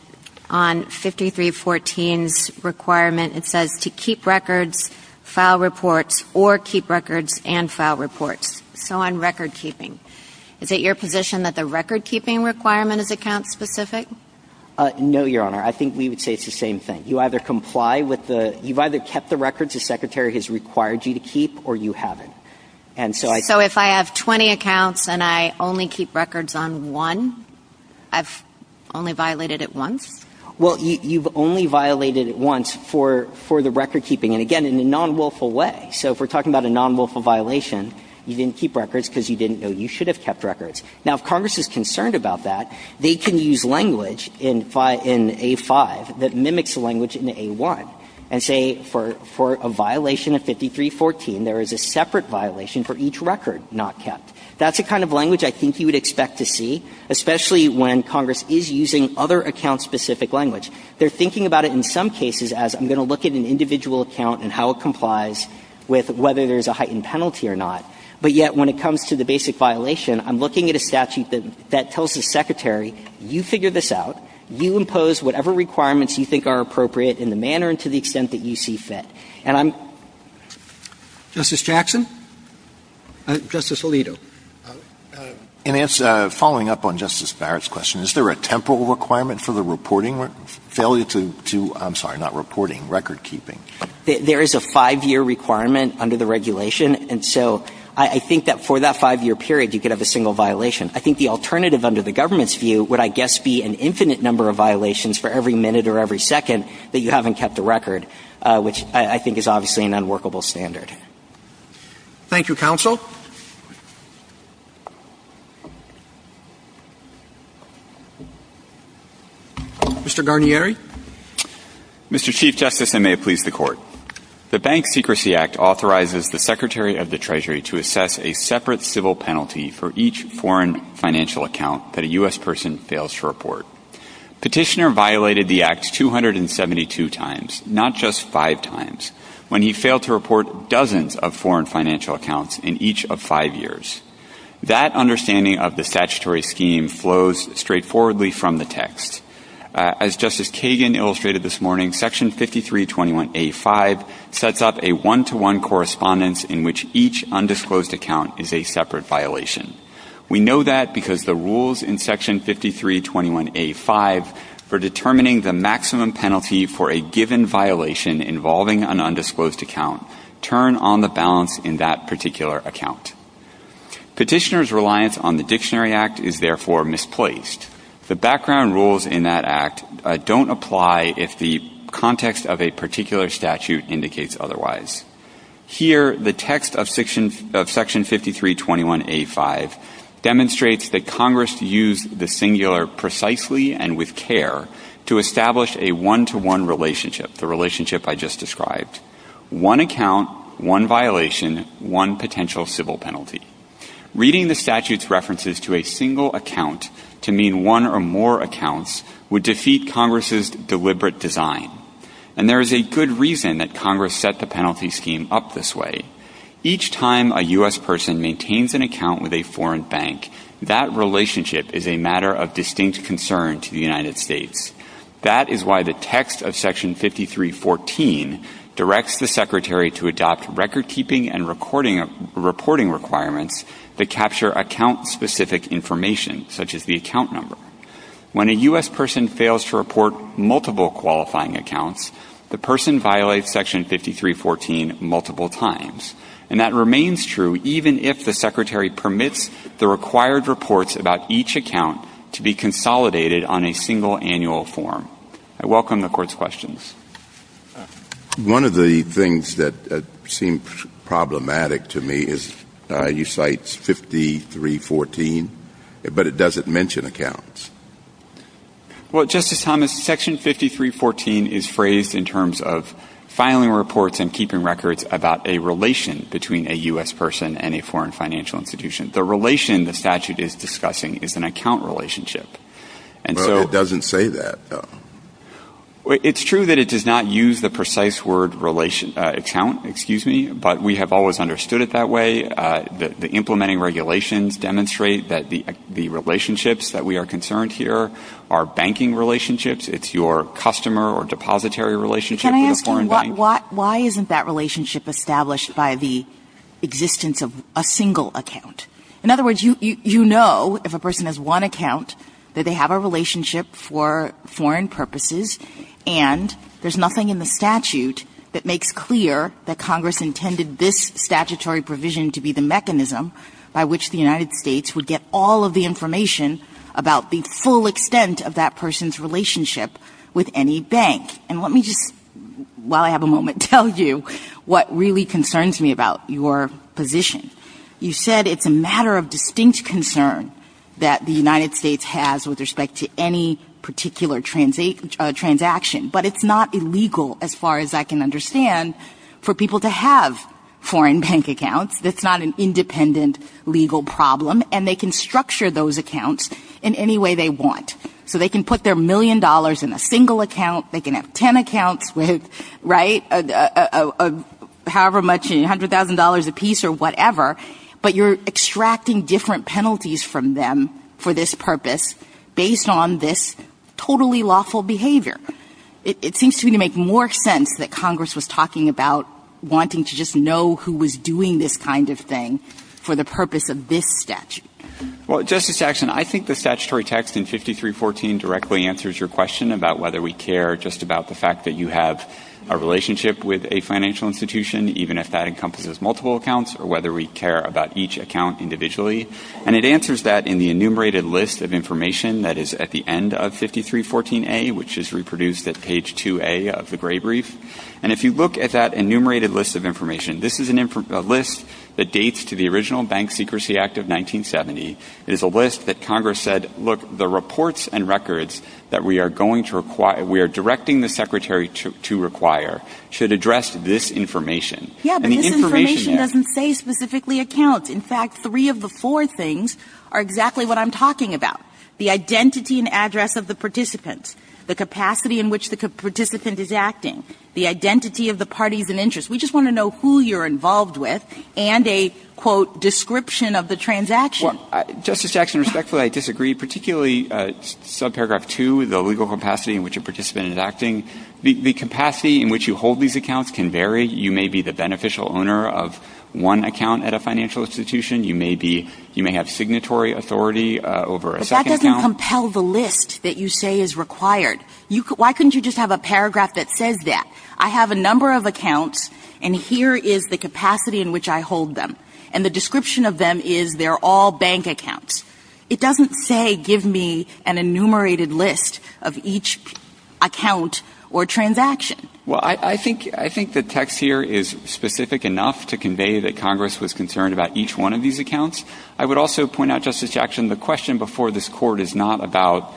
on 5314's requirement. It says to keep records, file reports, or keep records and file reports. So on record-keeping, is it your position that the record-keeping requirement is account-specific? No, Your Honor. I think we would say it's the same thing. You either comply with the – you've either kept the records the Secretary has required you to keep or you haven't. So if I have 20 accounts and I only keep records on one, I've only violated it once? Well, you've only violated it once for the record-keeping, and again, in a non-wilful way. So if we're talking about a non-wilful violation, you didn't keep records because you didn't know you should have kept records. Now, if Congress is concerned about that, they can use language in A-5 that mimics language in A-1 and say for a violation of 5314, there is a separate violation for each record not kept. That's the kind of language I think you would expect to see, especially when Congress is using other account-specific language. They're thinking about it in some cases as, I'm going to look at an individual account and how it complies with whether there's a heightened penalty or not, but yet when it comes to the basic violation, I'm looking at a statute that tells the Secretary, you figure this out, you impose whatever requirements you think are appropriate in the manner and to the extent that you see fit. Justice Jackson? Justice Alito? Following up on Justice Barrett's question, is there a temporal requirement for the reporting failure to, I'm sorry, not reporting, record keeping? There is a five-year requirement under the regulation, and so I think that for that five-year period, you could have a single violation. I think the alternative under the government's view would, I guess, be an infinite number of violations for every minute or every second that you haven't kept a record, which I think is obviously an unworkable standard. Thank you, Counsel. Mr. Garnieri? Mr. Chief Justice, and may it please the Court, the Bank Secrecy Act authorizes the Secretary of the Treasury to assess a separate civil penalty for each foreign financial account that a U.S. person fails to report. Petitioner violated the act 272 times, not just five times. When he failed to report dozens of foreign financial accounts in each of five years. That understanding of the statutory scheme flows straightforwardly from the text. As Justice Kagan illustrated this morning, Section 5321A5 sets up a one-to-one correspondence in which each undisclosed account is a separate violation. We know that because the rules in Section 5321A5 for determining the maximum penalty for a given violation involving an undisclosed account turn on the balance in that particular account. Petitioner's reliance on the Dictionary Act is therefore misplaced. The background rules in that act don't apply if the context of a particular statute indicates otherwise. Here, the text of Section 5321A5 demonstrates that Congress used the singular precisely and with care to establish a one-to-one relationship, the relationship I just described. One account, one violation, one potential civil penalty. Reading the statute's references to a single account to mean one or more accounts would defeat Congress's deliberate design. And there is a good reason that Congress set the penalty scheme up this way. Each time a U.S. person maintains an account with a foreign bank, that relationship is a matter of distinct concern to the United States. That is why the text of Section 5314 directs the Secretary to adopt recordkeeping and reporting requirements that capture account-specific information, such as the account number. When a U.S. person fails to report multiple qualifying accounts, the person violates Section 5314 multiple times. And that remains true even if the Secretary permits the required reports about each account to be consolidated on a single annual form. I welcome the Court's questions. One of the things that seems problematic to me is you cite 5314, but it doesn't mention accounts. Well, Justice Thomas, Section 5314 is phrased in terms of filing reports and keeping records about a relation between a U.S. person and a foreign financial institution. The relation the statute is discussing is an account relationship. Well, it doesn't say that, though. It's true that it does not use the precise word account, but we have always understood it that way. The implementing regulations demonstrate that the relationships that we are concerned here are banking relationships. It's your customer or depository relationship with a foreign bank. But why isn't that relationship established by the existence of a single account? In other words, you know if a person has one account that they have a relationship for foreign purposes, and there's nothing in the statute that makes clear that Congress intended this statutory provision to be the mechanism by which the United States would get all of the information about the full extent of that person's relationship with any bank. And let me just, while I have a moment, tell you what really concerns me about your position. You said it's a matter of distinct concern that the United States has with respect to any particular transaction, but it's not illegal, as far as I can understand, for people to have foreign bank accounts. That's not an independent legal problem, and they can structure those accounts in any way they want. So they can put their million dollars in a single account, they can have 10 accounts with, right, however much, $100,000 a piece or whatever, but you're extracting different penalties from them for this purpose based on this totally lawful behavior. It seems to me to make more sense that Congress was talking about wanting to just know who was doing this kind of thing for the purpose of this statute. Well, Justice Jackson, I think the statutory text in 5314 directly answers your question about whether we care just about the fact that you have a relationship with a financial institution, even if that encompasses multiple accounts, or whether we care about each account individually. And it answers that in the enumerated list of information that is at the end of 5314A, which is reproduced at page 2A of the Gray Brief. And if you look at that enumerated list of information, this is a list that dates to the original Bank Secrecy Act of 1970. It is a list that Congress said, look, the reports and records that we are directing the Secretary to require should address this information. Yes, but this information doesn't say specifically accounts. In fact, three of the four things are exactly what I'm talking about. The identity and address of the participant, the capacity in which the participant is acting, the identity of the parties and interests. We just want to know who you're involved with and a, quote, description of the transaction. Justice Jackson, respectfully, I disagree, particularly subparagraph 2, the legal capacity in which a participant is acting. The capacity in which you hold these accounts can vary. You may be the beneficial owner of one account at a financial institution. You may have signatory authority over a second account. But that doesn't compel the list that you say is required. Why couldn't you just have a paragraph that says that? I have a number of accounts, and here is the capacity in which I hold them. And the description of them is they're all bank accounts. It doesn't say give me an enumerated list of each account or transaction. Well, I think the text here is specific enough to convey that Congress was concerned about each one of these accounts. I would also point out, Justice Jackson, the question before this Court is not about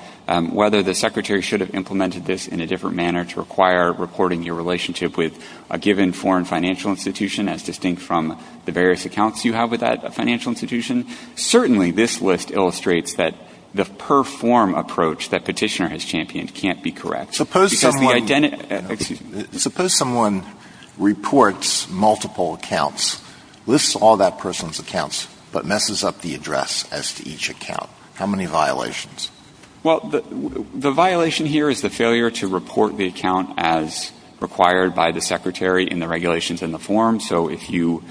whether the Secretary should have implemented this in a different manner to require reporting your relationship with a given foreign financial institution as distinct from the various accounts you have with that financial institution. Certainly this list illustrates that the per-form approach that Petitioner has championed can't be correct. Suppose someone reports multiple accounts, lists all that person's accounts, but messes up the address as to each account. How many violations? Well, the violation here is the failure to report the account as required by the Secretary in the regulations in the form. So if you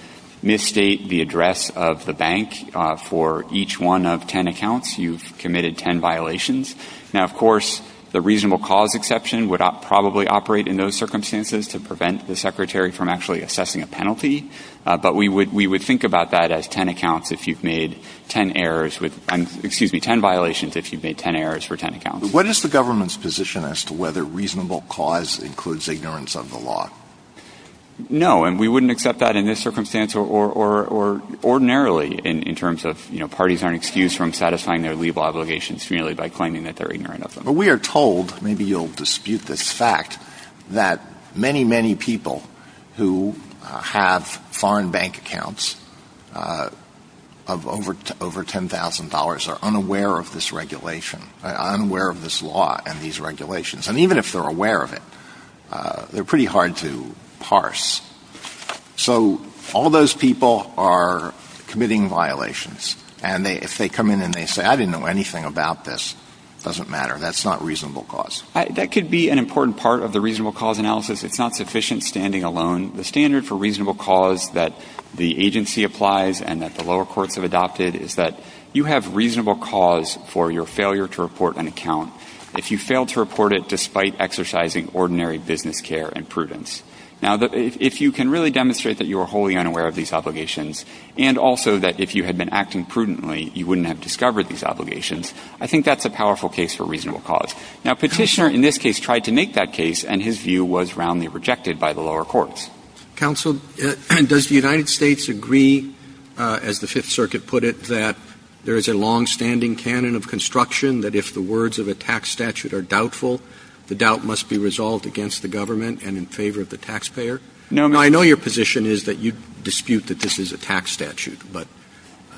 misstate the address of the bank for each one of ten accounts, you've committed ten violations. Now, of course, the reasonable cause exception would probably operate in those circumstances to prevent the Secretary from actually assessing a penalty, but we would think about that as ten accounts if you've made ten errors with and, excuse me, ten violations if you've made ten errors for ten accounts. What is the government's position as to whether reasonable cause includes ignorance of the law? No, and we wouldn't accept that in this circumstance or ordinarily in terms of, you know, parties aren't excused from satisfying their legal obligations merely by claiming that they're ignorant of them. But we are told, maybe you'll dispute this fact, that many, many people who have foreign bank accounts of over $10,000 are unaware of this regulation, unaware of this law and these regulations. And even if they're aware of it, they're pretty hard to parse. So all those people are committing violations, and if they come in and they say, I didn't know anything about this, it doesn't matter, that's not reasonable cause. That could be an important part of the reasonable cause analysis. It's not sufficient standing alone. The standard for reasonable cause that the agency applies and that the lower courts have adopted is that you have reasonable cause for your failure to report an account if you fail to report it despite exercising ordinary business care and prudence. Now, if you can really demonstrate that you are wholly unaware of these obligations and also that if you had been acting prudently, you wouldn't have discovered these obligations, I think that's a powerful case for reasonable cause. Now, a petitioner in this case tried to make that case and his view was roundly rejected by the lower courts. Counsel, does the United States agree, as the Fifth Circuit put it, that there is a longstanding canon of construction that if the words of a tax statute are doubtful, the doubt must be resolved against the government and in favor of the taxpayer? Now, I know your position is that you dispute that this is a tax statute, but...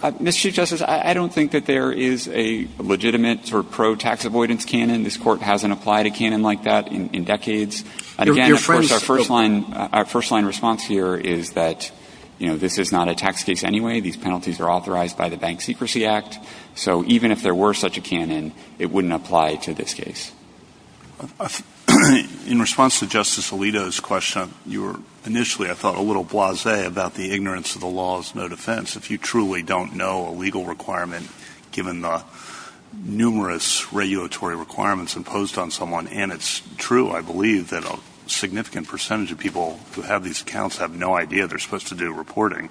Mr. Chief Justice, I don't think that there is a legitimate or pro-tax avoidance canon. This court hasn't applied a canon like that in decades. Again, of course, our first-line response here is that this is not a tax case anyway. These penalties are authorized by the Bank Secrecy Act. So even if there were such a canon, it wouldn't apply to this case. In response to Justice Alito's question, initially I thought a little blasé about the ignorance of the law is no defense. If you truly don't know a legal requirement, given the numerous regulatory requirements imposed on someone, and it's true, I believe, that a significant percentage of people who have these accounts have no idea they're supposed to do reporting,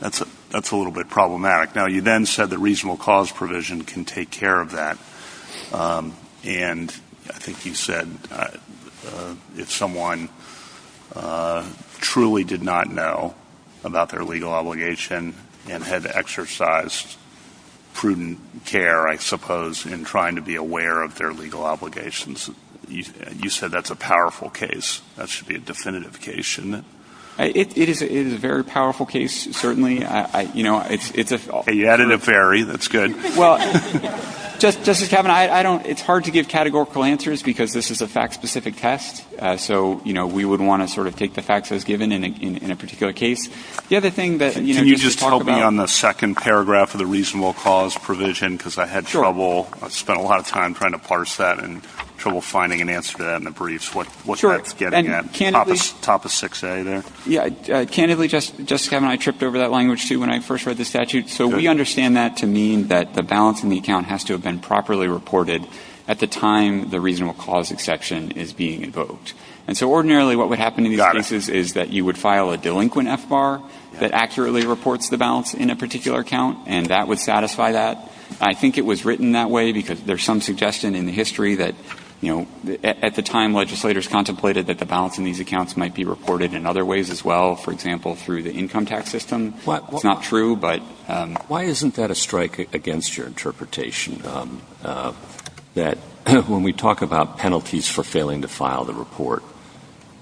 that's a little bit problematic. Now, you then said that reasonable cause provision can take care of that. And I think you said if someone truly did not know about their legal obligation and had exercised prudent care, I suppose, in trying to be aware of their legal obligations, you said that's a powerful case. That should be a definitive case, shouldn't it? It is a very powerful case, certainly. You added a very. That's good. Well, Justice Kavanaugh, it's hard to give categorical answers because this is a fact-specific test, so we would want to sort of take the facts as given in a particular case. Can you just help me on the second paragraph of the reasonable cause provision? Because I had trouble, I spent a lot of time trying to parse that and trouble finding an answer to that in the briefs. What's that getting at? Top of 6A there? Candidly, Justice Kavanaugh, I tripped over that language too when I first read the statute. So we understand that to mean that the balance in the account has to have been properly reported at the time the reasonable cause exception is being invoked. And so ordinarily what would happen in these cases is that you would file a delinquent F-bar that accurately reports the balance in a particular account, and that would satisfy that. I think it was written that way because there's some suggestion in the history that, you know, at the time legislators contemplated that the balance in these accounts might be reported in other ways as well, for example, through the income tax system. Not true, but why isn't that a strike against your interpretation that when we talk about penalties for failing to file the report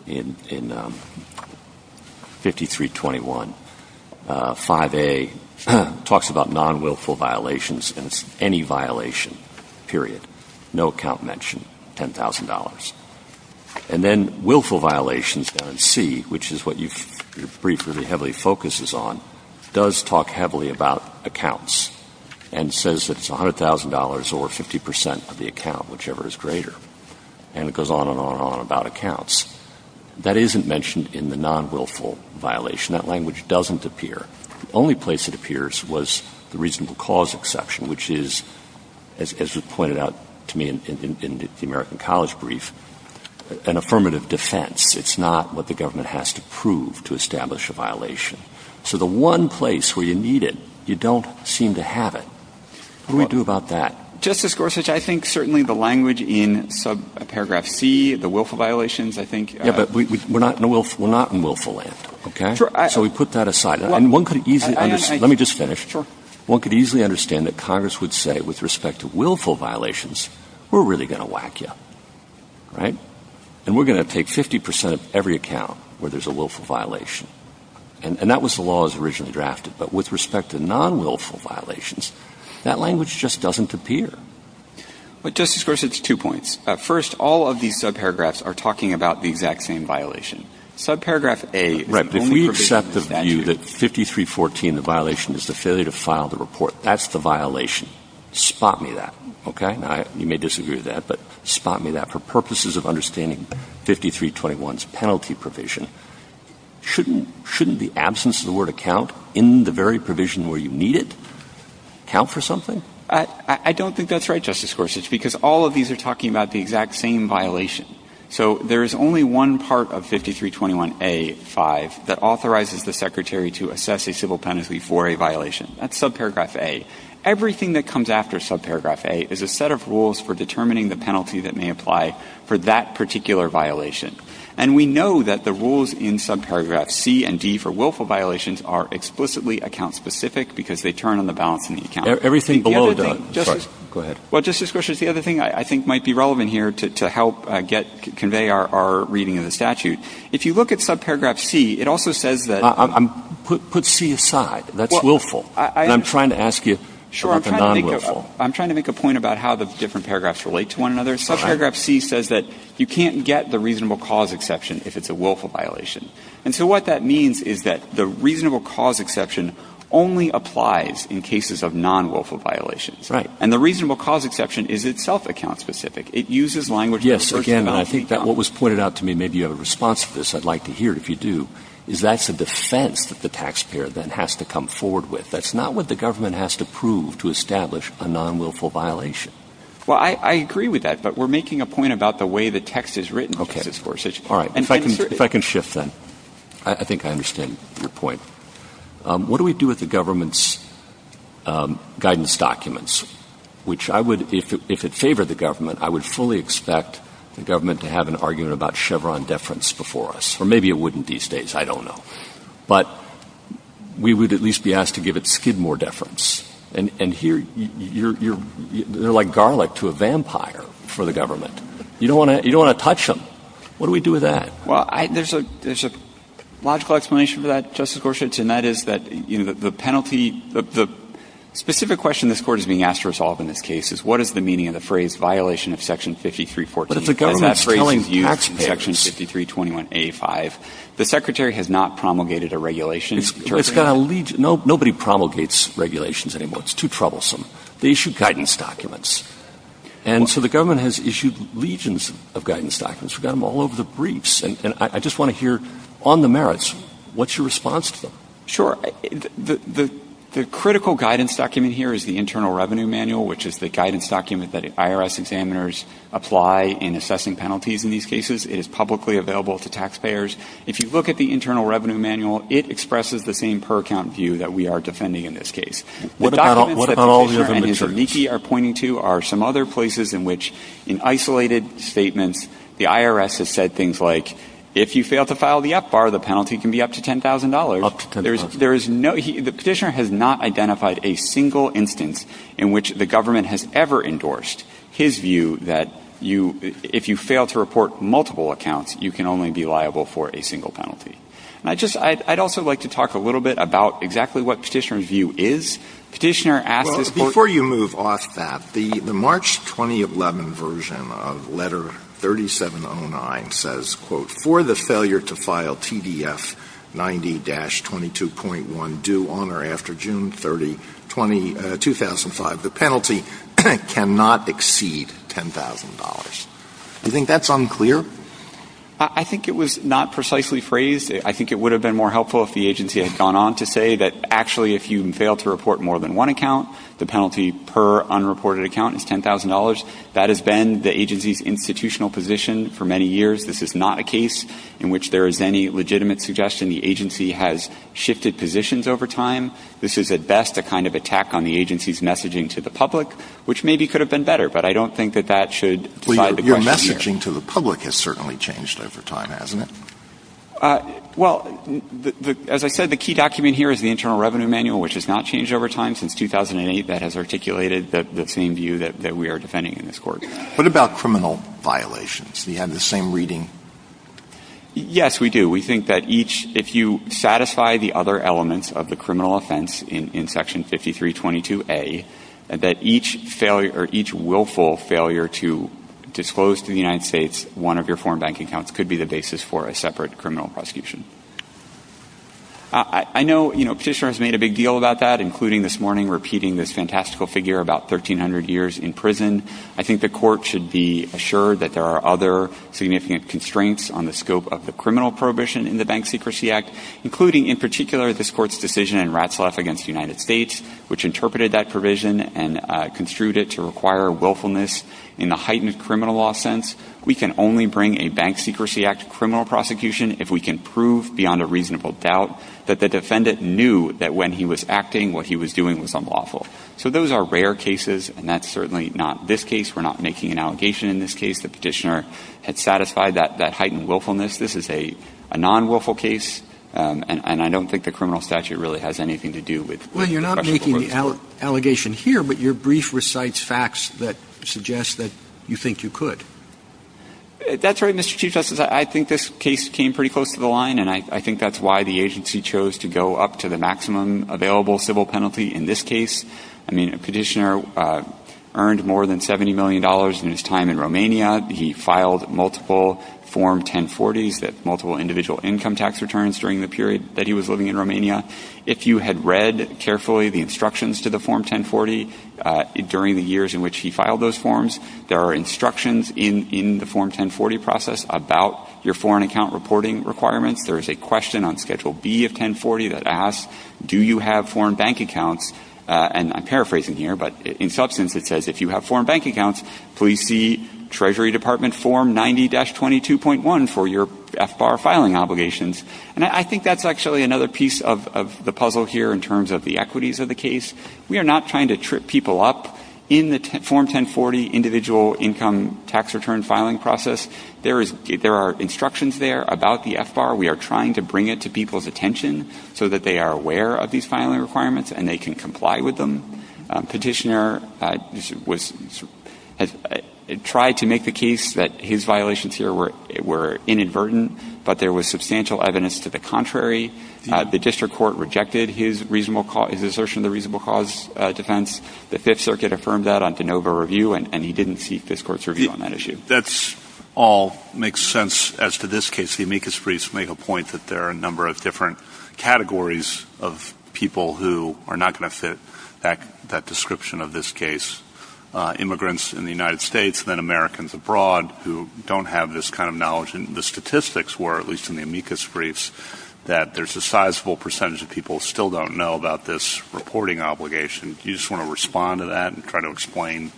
in 5321, 5A talks about non-willful violations and it's any violation, period, no account mentioned, $10,000. And then willful violations on C, which is what your brief really heavily focuses on, does talk heavily about accounts and says that it's $100,000 or 50% of the account, whichever is greater, and it goes on and on and on about accounts. That isn't mentioned in the non-willful violation. That language doesn't appear. The only place it appears was the reasonable cause exception, which is, as was pointed out to me in the American College brief, an affirmative defense. It's not what the government has to prove to establish a violation. So the one place where you need it, you don't seem to have it. What do we do about that? Justice Gorsuch, I think certainly the language in Paragraph C, the willful violations, I think... Yeah, but we're not in willful land, okay? So we put that aside. And one could easily... Let me just finish. Sure. One could easily understand that Congress would say, with respect to willful violations, we're really going to whack you, all right? And we're going to take 50% of every account where there's a willful violation. And that was the law as originally drafted. But with respect to non-willful violations, that language just doesn't appear. Justice Gorsuch, two points. First, all of these subparagraphs are talking about the exact same violation. Subparagraph A... The violation is the failure to file the report. That's the violation. Spot me that, okay? You may disagree with that, but spot me that. For purposes of understanding 5321's penalty provision, shouldn't the absence of the word account in the very provision where you need it count for something? I don't think that's right, Justice Gorsuch, because all of these are talking about the exact same violation. So there's only one part of 5321A.5 that authorizes the Secretary to assess a civil penalty for a violation. That's subparagraph A. Everything that comes after subparagraph A is a set of rules for determining the penalty that may apply for that particular violation. And we know that the rules in subparagraphs C and D for willful violations are explicitly account-specific because they turn on the balance in the account. Everything below that... Well, Justice Gorsuch, the other thing I think might be relevant here to help convey our reading of the statute, if you look at subparagraph C, it also says that... Put C aside. That's willful. I'm trying to ask you about the non-willful. I'm trying to make a point about how the different paragraphs relate to one another. Subparagraph C says that you can't get the reasonable cause exception if it's a willful violation. And so what that means is that the reasonable cause exception only applies in cases of non-willful violations. And the reasonable cause exception is itself account-specific. It uses language... Yes, again, I think that what was pointed out to me, maybe you have a response to this, I'd like to hear it if you do, is that's a defense that the taxpayer then has to come forward with. That's not what the government has to prove to establish a non-willful violation. Well, I agree with that, but we're making a point about the way the text is written, Justice Gorsuch. If I can shift then. I think I understand your point. What do we do with the government's guidance documents? Which I would, if it favored the government, I would fully expect the government to have an argument about Chevron deference before us. Or maybe it wouldn't these days, I don't know. But we would at least be asked to give it Skidmore deference. And here, you're like garlic to a vampire for the government. You don't want to touch them. What do we do with that? Well, there's a logical explanation for that, Justice Gorsuch, and that is that the penalty, the specific question this Court is being asked to resolve in this case is what is the meaning of the phrase violation of Section 5314? But if the government is killing taxpayers... Section 5321A5. The Secretary has not promulgated a regulation. It's got a legion... Nobody promulgates regulations anymore. It's too troublesome. They issue guidance documents. And so the government has issued legions of guidance documents. We've got them all over the briefs. And I just want to hear, on the merits, what's your response to that? Sure. The critical guidance document here is the Internal Revenue Manual, which is the guidance document that IRS examiners apply in assessing penalties in these cases. It is publicly available to taxpayers. If you look at the Internal Revenue Manual, it expresses the same per-account view that we are defending in this case. What about all the other materials? The documents that Petitioner and Yannicki are pointing to are some other places in which, in isolated statements, the IRS has said things like, if you fail to file the FBAR, the penalty can be up to $10,000. Up to $10,000. The petitioner has not identified a single instance in which the government has ever endorsed his view that if you fail to report multiple accounts, you can only be liable for a single penalty. I'd also like to talk a little bit about exactly what Petitioner's view is. Before you move off that, the March 2011 version of Letter 3709 says, for the failure to file TDF 90-22.1 due on or after June 30, 2005, the penalty cannot exceed $10,000. Do you think that's unclear? I think it was not precisely phrased. I think it would have been more helpful if the agency had gone on to say that, actually, if you fail to report more than one account, the penalty per unreported account is $10,000. That has been the agency's institutional position for many years. This is not a case in which there is any legitimate suggestion. The agency has shifted positions over time. This is, at best, a kind of attack on the agency's messaging to the public, which maybe could have been better, but I don't think that that should decide the question here. The messaging to the public has certainly changed over time, hasn't it? Well, as I said, the key document here is the Internal Revenue Manual, which has not changed over time since 2008. That has articulated the same view that we are defending in this court. What about criminal violations? Do you have the same reading? Yes, we do. We think that if you satisfy the other elements of the criminal offense in Section 5322A, that each willful failure to disclose to the United States one of your foreign bank accounts could be the basis for a separate criminal prosecution. I know Petitioner has made a big deal about that, including this morning repeating this fantastical figure about 1,300 years in prison. I think the court should be assured that there are other significant constraints on the scope of the criminal prohibition in the Bank Secrecy Act, including, in particular, this court's decision in Ratzlaff v. United States, which interpreted that provision and construed it to require willfulness. In the heightened criminal law sense, we can only bring a Bank Secrecy Act criminal prosecution if we can prove beyond a reasonable doubt that the defendant knew that when he was acting, what he was doing was unlawful. So those are rare cases, and that's certainly not this case. We're not making an allegation in this case that Petitioner had satisfied that heightened willfulness. This is a non-willful case, and I don't think the criminal statute really has anything to do with it. Well, you're not making an allegation here, but your brief recites facts that suggest that you think you could. That's right, Mr. Chief Justice. I think this case came pretty close to the line, and I think that's why the agency chose to go up to the maximum available civil penalty in this case. I mean, Petitioner earned more than $70 million in his time in Romania. He filed multiple Form 1040s, multiple individual income tax returns, during the period that he was living in Romania. If you had read carefully the instructions to the Form 1040 during the years in which he filed those forms, there are instructions in the Form 1040 process about your foreign account reporting requirements. There is a question on Schedule B of 1040 that asks, do you have foreign bank accounts? And I'm paraphrasing here, but in substance it says, if you have foreign bank accounts, please see Treasury Department Form 90-22.1 for your FBAR filing obligations. And I think that's actually another piece of the puzzle here in terms of the equities of the case. We are not trying to trip people up. In the Form 1040 individual income tax return filing process, there are instructions there about the FBAR. We are trying to bring it to people's attention so that they are aware of these filing requirements and they can comply with them. Petitioner tried to make the case that his violations here were inadvertent, but there was substantial evidence to the contrary. The district court rejected his assertion of the reasonable cause defense. The Fifth Circuit affirmed that on de novo review, and he didn't seek this court's review on that issue. That all makes sense as to this case. The amicus briefs make a point that there are a number of different categories of people who are not going to fit that description of this case. Immigrants in the United States, then Americans abroad who don't have this kind of knowledge and the statistics were, at least in the amicus briefs, that there's a sizable percentage of people who still don't know about this reporting obligation. Do you just want to respond to that and try to explain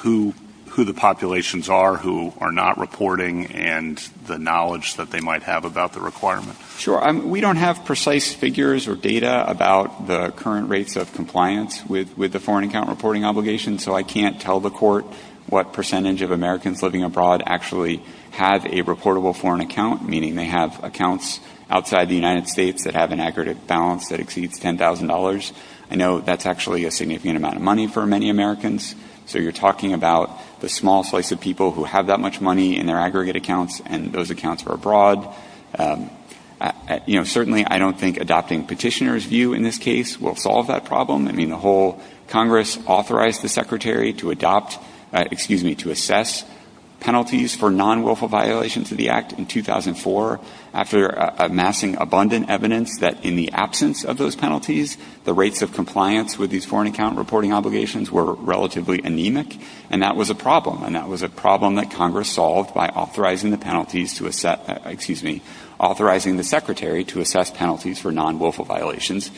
who the populations are who are not reporting and the knowledge that they might have about the requirement? Sure. We don't have precise figures or data about the current rates of compliance with the foreign account reporting obligation, so I can't tell the court what percentage of Americans living abroad actually have a reportable foreign account, meaning they have accounts outside the United States that have an aggregate balance that exceeds $10,000. I know that's actually a significant amount of money for many Americans, so you're talking about the small slice of people who have that much money in their aggregate accounts and those accounts are abroad. Certainly, I don't think adopting petitioner's view in this case will solve that problem. Congress authorized the Secretary to assess penalties for non-willful violations of the Act in 2004 after amassing abundant evidence that in the absence of those penalties, the rates of compliance with these foreign account reporting obligations were relatively anemic, and that was a problem. That was a problem that Congress solved by authorizing the Secretary to assess penalties for non-willful violations.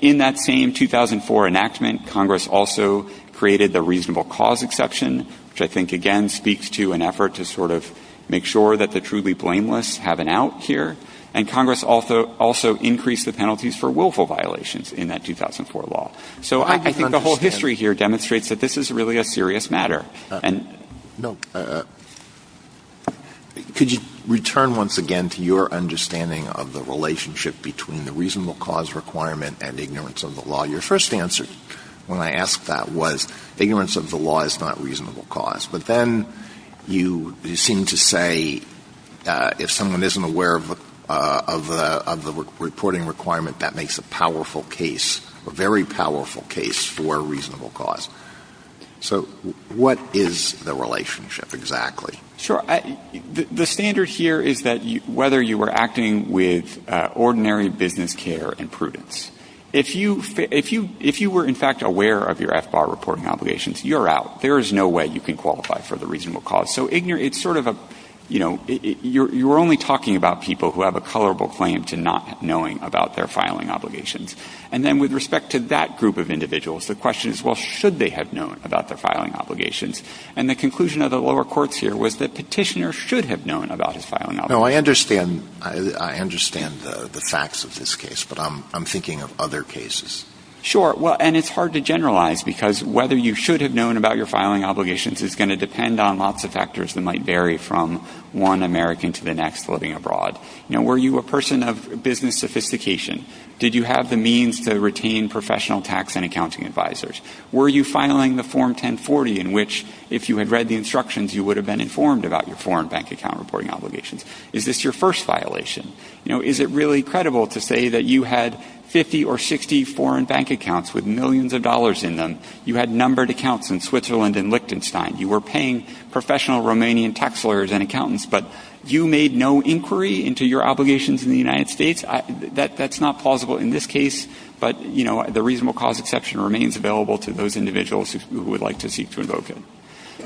In that same 2004 enactment, Congress also created the reasonable cause exception, which I think again speaks to an effort to sort of make sure that the truly blameless have an out here, and Congress also increased the penalties for willful violations in that 2004 law. So I think the whole history here demonstrates that this is really a serious matter. Could you return once again to your understanding of the relationship between the reasonable cause requirement and ignorance of the law? Your first answer when I asked that was ignorance of the law is not reasonable cause, but then you seem to say if someone isn't aware of the reporting requirement, that makes a powerful case, a very powerful case for a reasonable cause. So what is the relationship exactly? Sure. The standard here is that whether you were acting with ordinary business care and prudence, if you were in fact aware of your FBAR reporting obligations, you're out. There is no way you can qualify for the reasonable cause. So it's sort of a, you know, you're only talking about people who have a colorable claim to not knowing about their filing obligations. And then with respect to that group of individuals, the question is, well, should they have known about their filing obligations? And the conclusion of the lower courts here was that petitioners should have known about their filing obligations. No, I understand the facts of this case, but I'm thinking of other cases. Sure. And it's hard to generalize because whether you should have known about your filing obligations is going to depend on lots of factors that might vary from one American to the next living abroad. Were you a person of business sophistication? Did you have the means to retain professional tax and accounting advisors? Were you filing the Form 1040 in which, if you had read the instructions, you would have been informed about your foreign bank account reporting obligations? Is this your first violation? You know, is it really credible to say that you had 50 or 60 foreign bank accounts with millions of dollars in them? You had numbered accounts in Switzerland and Liechtenstein. You were paying professional Romanian tax lawyers and accountants, but you made no inquiry into your obligations in the United States? That's not plausible in this case, but, you know, the reasonable cause exception remains available to those individuals who would like to seek to invoke it.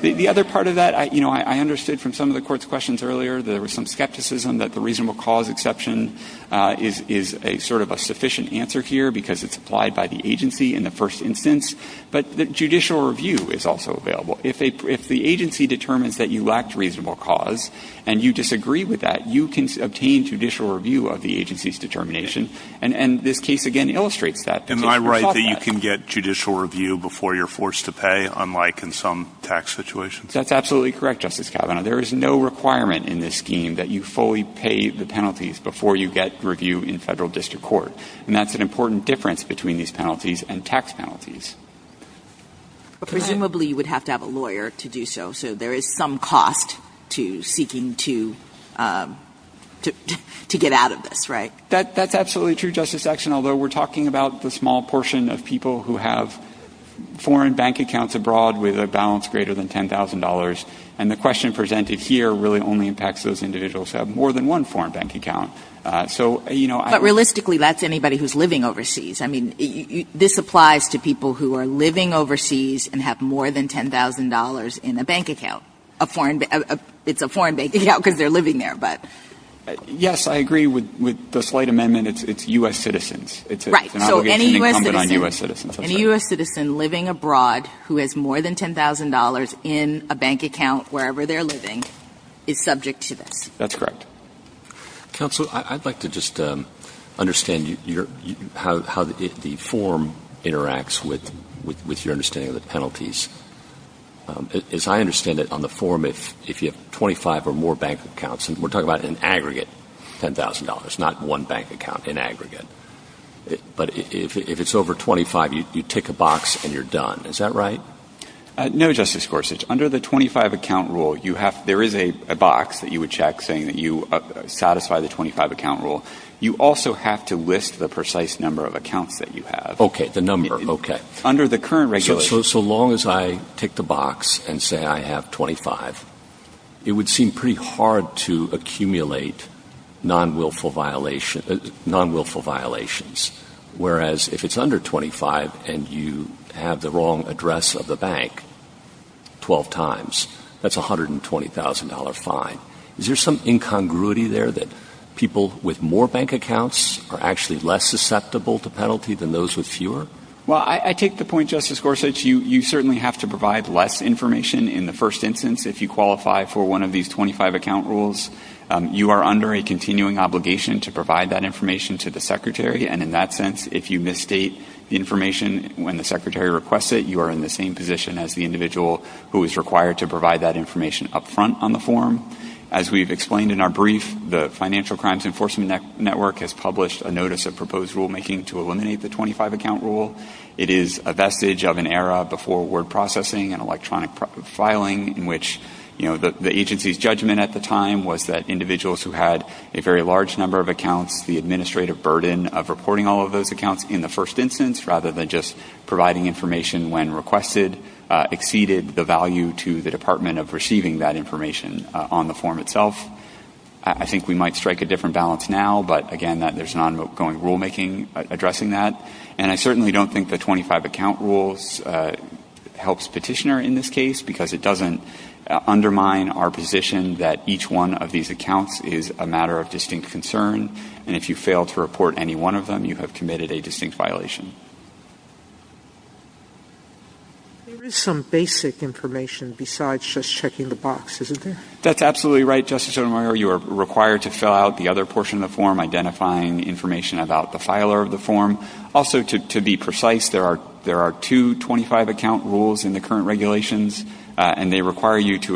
The other part of that, you know, I understood from some of the court's questions earlier, there was some skepticism that the reasonable cause exception is sort of a sufficient answer here because it's applied by the agency in the first instance, but the judicial review is also available. If the agency determines that you lacked reasonable cause and you disagree with that, you can obtain judicial review of the agency's determination, and this case, again, illustrates that. Am I right that you can get judicial review before you're forced to pay, unlike in some tax situations? That's absolutely correct, Justice Kavanaugh. There is no requirement in this scheme that you fully pay the penalties before you get review in federal district court, and that's an important difference between these penalties and tax penalties. Presumably you would have to have a lawyer to do so, so there is some cost to seeking to get out of this, right? That's absolutely true, Justice Akshen, although we're talking about the small portion of people who have foreign bank accounts abroad with a balance greater than $10,000, and the question presented here really only impacts those individuals who have more than one foreign bank account. But realistically, that's anybody who's living overseas. I mean, this applies to people who are living overseas and have more than $10,000 in a bank account. It's a foreign bank account because they're living there. Yes, I agree with the slight amendment. It's U.S. citizens. It's an obligation incumbent on U.S. citizens. Any U.S. citizen living abroad who has more than $10,000 in a bank account wherever they're living is subject to this. That's correct. Counsel, I'd like to just understand how the form interacts with your understanding of the penalties. As I understand it, on the form, if you have 25 or more bank accounts, and we're talking about an aggregate $10,000, not one bank account in aggregate, but if it's over 25, you tick a box and you're done. Is that right? No, Justice Gorsuch. Under the 25-account rule, there is a box that you would check saying that you satisfy the 25-account rule. You also have to list the precise number of accounts that you have. Okay, the number. Okay. Under the current regulation. So long as I tick the box and say I have 25, it would seem pretty hard to accumulate non-wilful violations. Whereas if it's under 25 and you have the wrong address of the bank 12 times, that's a $120,000 fine. Is there some incongruity there that people with more bank accounts are actually less susceptible to penalty than those with fewer? Well, I take the point, Justice Gorsuch. You certainly have to provide less information in the first instance if you qualify for one of these 25-account rules. You are under a continuing obligation to provide that information to the Secretary, and in that sense, if you misstate information when the Secretary requests it, you are in the same position as the individual who is required to provide that information up front on the form. As we've explained in our brief, the Financial Crimes Enforcement Network has published a notice of proposed rulemaking to eliminate the 25-account rule. It is a vestige of an era before word processing and electronic filing, in which the agency's judgment at the time was that individuals who had a very large number of accounts, the administrative burden of reporting all of those accounts in the first instance, rather than just providing information when requested, exceeded the value to the Department of receiving that information on the form itself. I think we might strike a different balance now, but again, there's an ongoing rulemaking addressing that. And I certainly don't think the 25-account rule helps Petitioner in this case, because it doesn't undermine our position that each one of these accounts is a matter of distinct concern, and if you fail to report any one of them, you have committed a distinct violation. There is some basic information besides just checking the box, isn't there? That's absolutely right, Justice Edelmeier. You are required to fill out the other portion of the form, identifying information about the filer of the form. Also, to be precise, there are two 25-account rules in the current regulations, and they require you to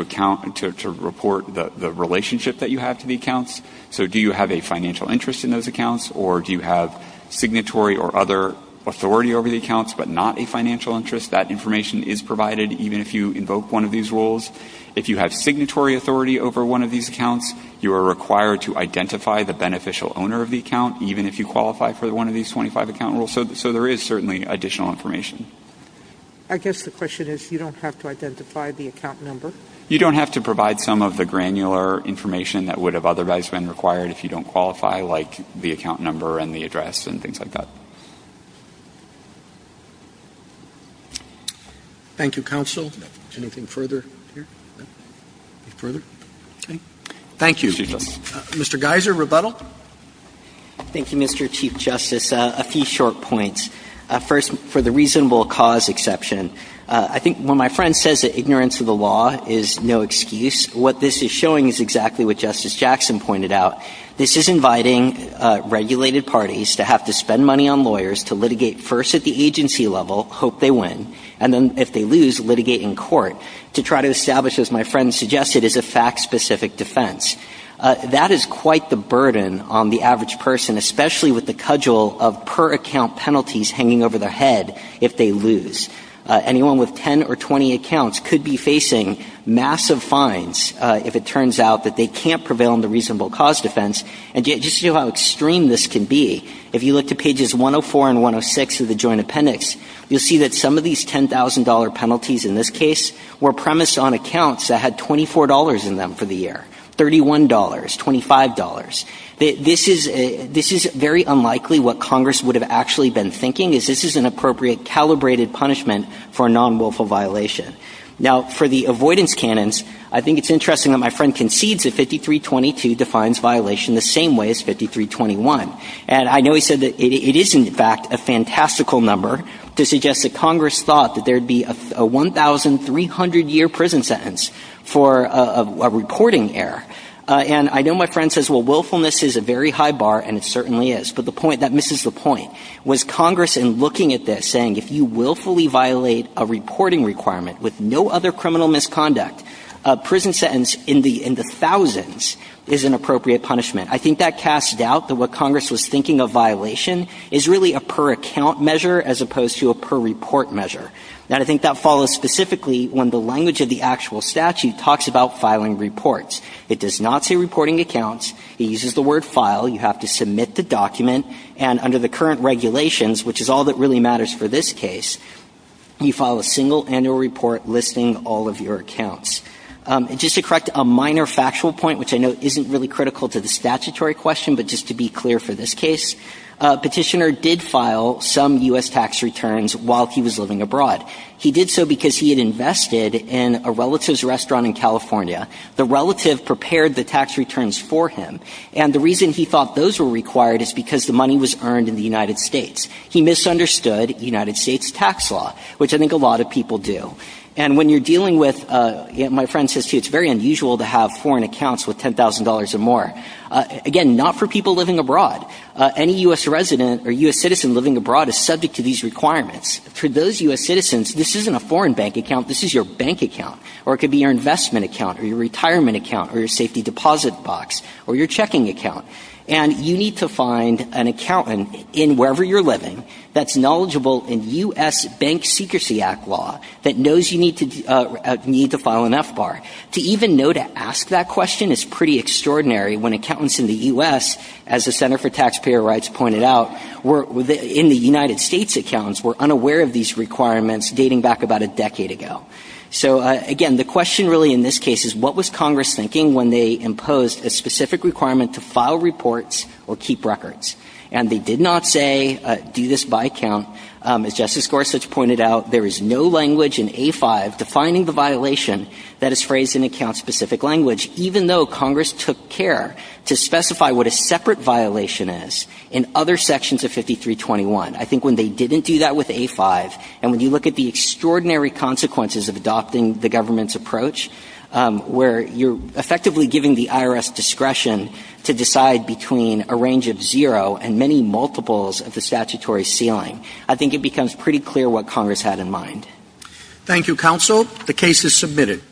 report the relationship that you have to the accounts. So do you have a financial interest in those accounts, or do you have signatory or other authority over the accounts but not a financial interest? That information is provided even if you invoke one of these rules. If you have signatory authority over one of these accounts, you are required to identify the beneficial owner of the account, even if you qualify for one of these 25-account rules. So there is certainly additional information. I guess the question is, you don't have to identify the account number? You don't have to provide some of the granular information that would have otherwise been required if you don't qualify, like the account number and the address and things like that. Thank you, counsel. Anything further here? Further? Okay. Thank you. Mr. Geiser, rebuttal? Thank you, Mr. Chief Justice. A few short points. First, for the reasonable cause exception, I think when my friend says that ignorance of the law is no excuse, what this is showing is exactly what Justice Jackson pointed out. This is inviting regulated parties to have to spend money on lawyers to litigate first at the agency level, hope they win, and then if they lose, litigate in court, to try to establish, as my friend suggested, as a fact-specific defense. That is quite the burden on the average person, especially with the cudgel of per-account penalties hanging over their head if they lose. Anyone with 10 or 20 accounts could be facing massive fines if it turns out that they can't prevail in the reasonable cause defense. And just to show how extreme this could be, if you look to pages 104 and 106 of the Joint Appendix, you'll see that some of these $10,000 penalties in this case were premised on accounts that had $24 in them for the year, $31, $25. This is very unlikely what Congress would have actually been thinking, is this is an appropriate calibrated punishment for a non-willful violation. Now, for the avoidance canons, I think it's interesting that my friend concedes that 5322 defines violation the same way as 5321. And I know he said that it is, in fact, a fantastical number to suggest that Congress thought that there'd be a 1,300-year prison sentence for a reporting error. And I know my friend says, well, willfulness is a very high bar, and it certainly is. But that misses the point. Was Congress, in looking at this, saying, if you willfully violate a reporting requirement with no other criminal misconduct, a prison sentence in the thousands is an appropriate punishment? I think that casts doubt that what Congress was thinking of violation is really a per-account measure as opposed to a per-report measure. And I think that follows specifically when the language of the actual statute talks about filing reports. It does not say reporting accounts. It uses the word file. You have to submit the document. And under the current regulations, which is all that really matters for this case, you file a single annual report listing all of your accounts. And just to correct a minor factual point, which I know isn't really critical to the statutory question, but just to be clear for this case, petitioner did file some U.S. tax returns while he was living abroad. He did so because he had invested in a relative's restaurant in California. The relative prepared the tax returns for him. And the reason he thought those were required is because the money was earned in the United States. He misunderstood the United States tax law, which I think a lot of people do. And when you're dealing with-my friend says it's very unusual to have foreign accounts with $10,000 or more. Again, not for people living abroad. Any U.S. resident or U.S. citizen living abroad is subject to these requirements. For those U.S. citizens, this isn't a foreign bank account. This is your bank account. Or it could be your investment account or your retirement account or your safety deposit box or your checking account. And you need to find an accountant in wherever you're living that's knowledgeable in U.S. Bank Secrecy Act law that knows you need to file an FBAR. To even know to ask that question is pretty extraordinary when accountants in the U.S., as the Center for Taxpayer Rights pointed out, in the United States accounts, were unaware of these requirements dating back about a decade ago. So, again, the question really in this case is, what was Congress thinking when they imposed a specific requirement to file reports or keep records? And they did not say, do this by account. As Justice Gorsuch pointed out, there is no language in A5 defining the violation that is phrased in account-specific language, even though Congress took care to specify what a separate violation is in other sections of 5321. I think when they didn't do that with A5, and when you look at the extraordinary consequences of adopting the government's approach, where you're effectively giving the IRS discretion to decide between a range of zero and many multiples of the statutory ceiling, I think it becomes pretty clear what Congress had in mind. Thank you, Counsel. The case is submitted.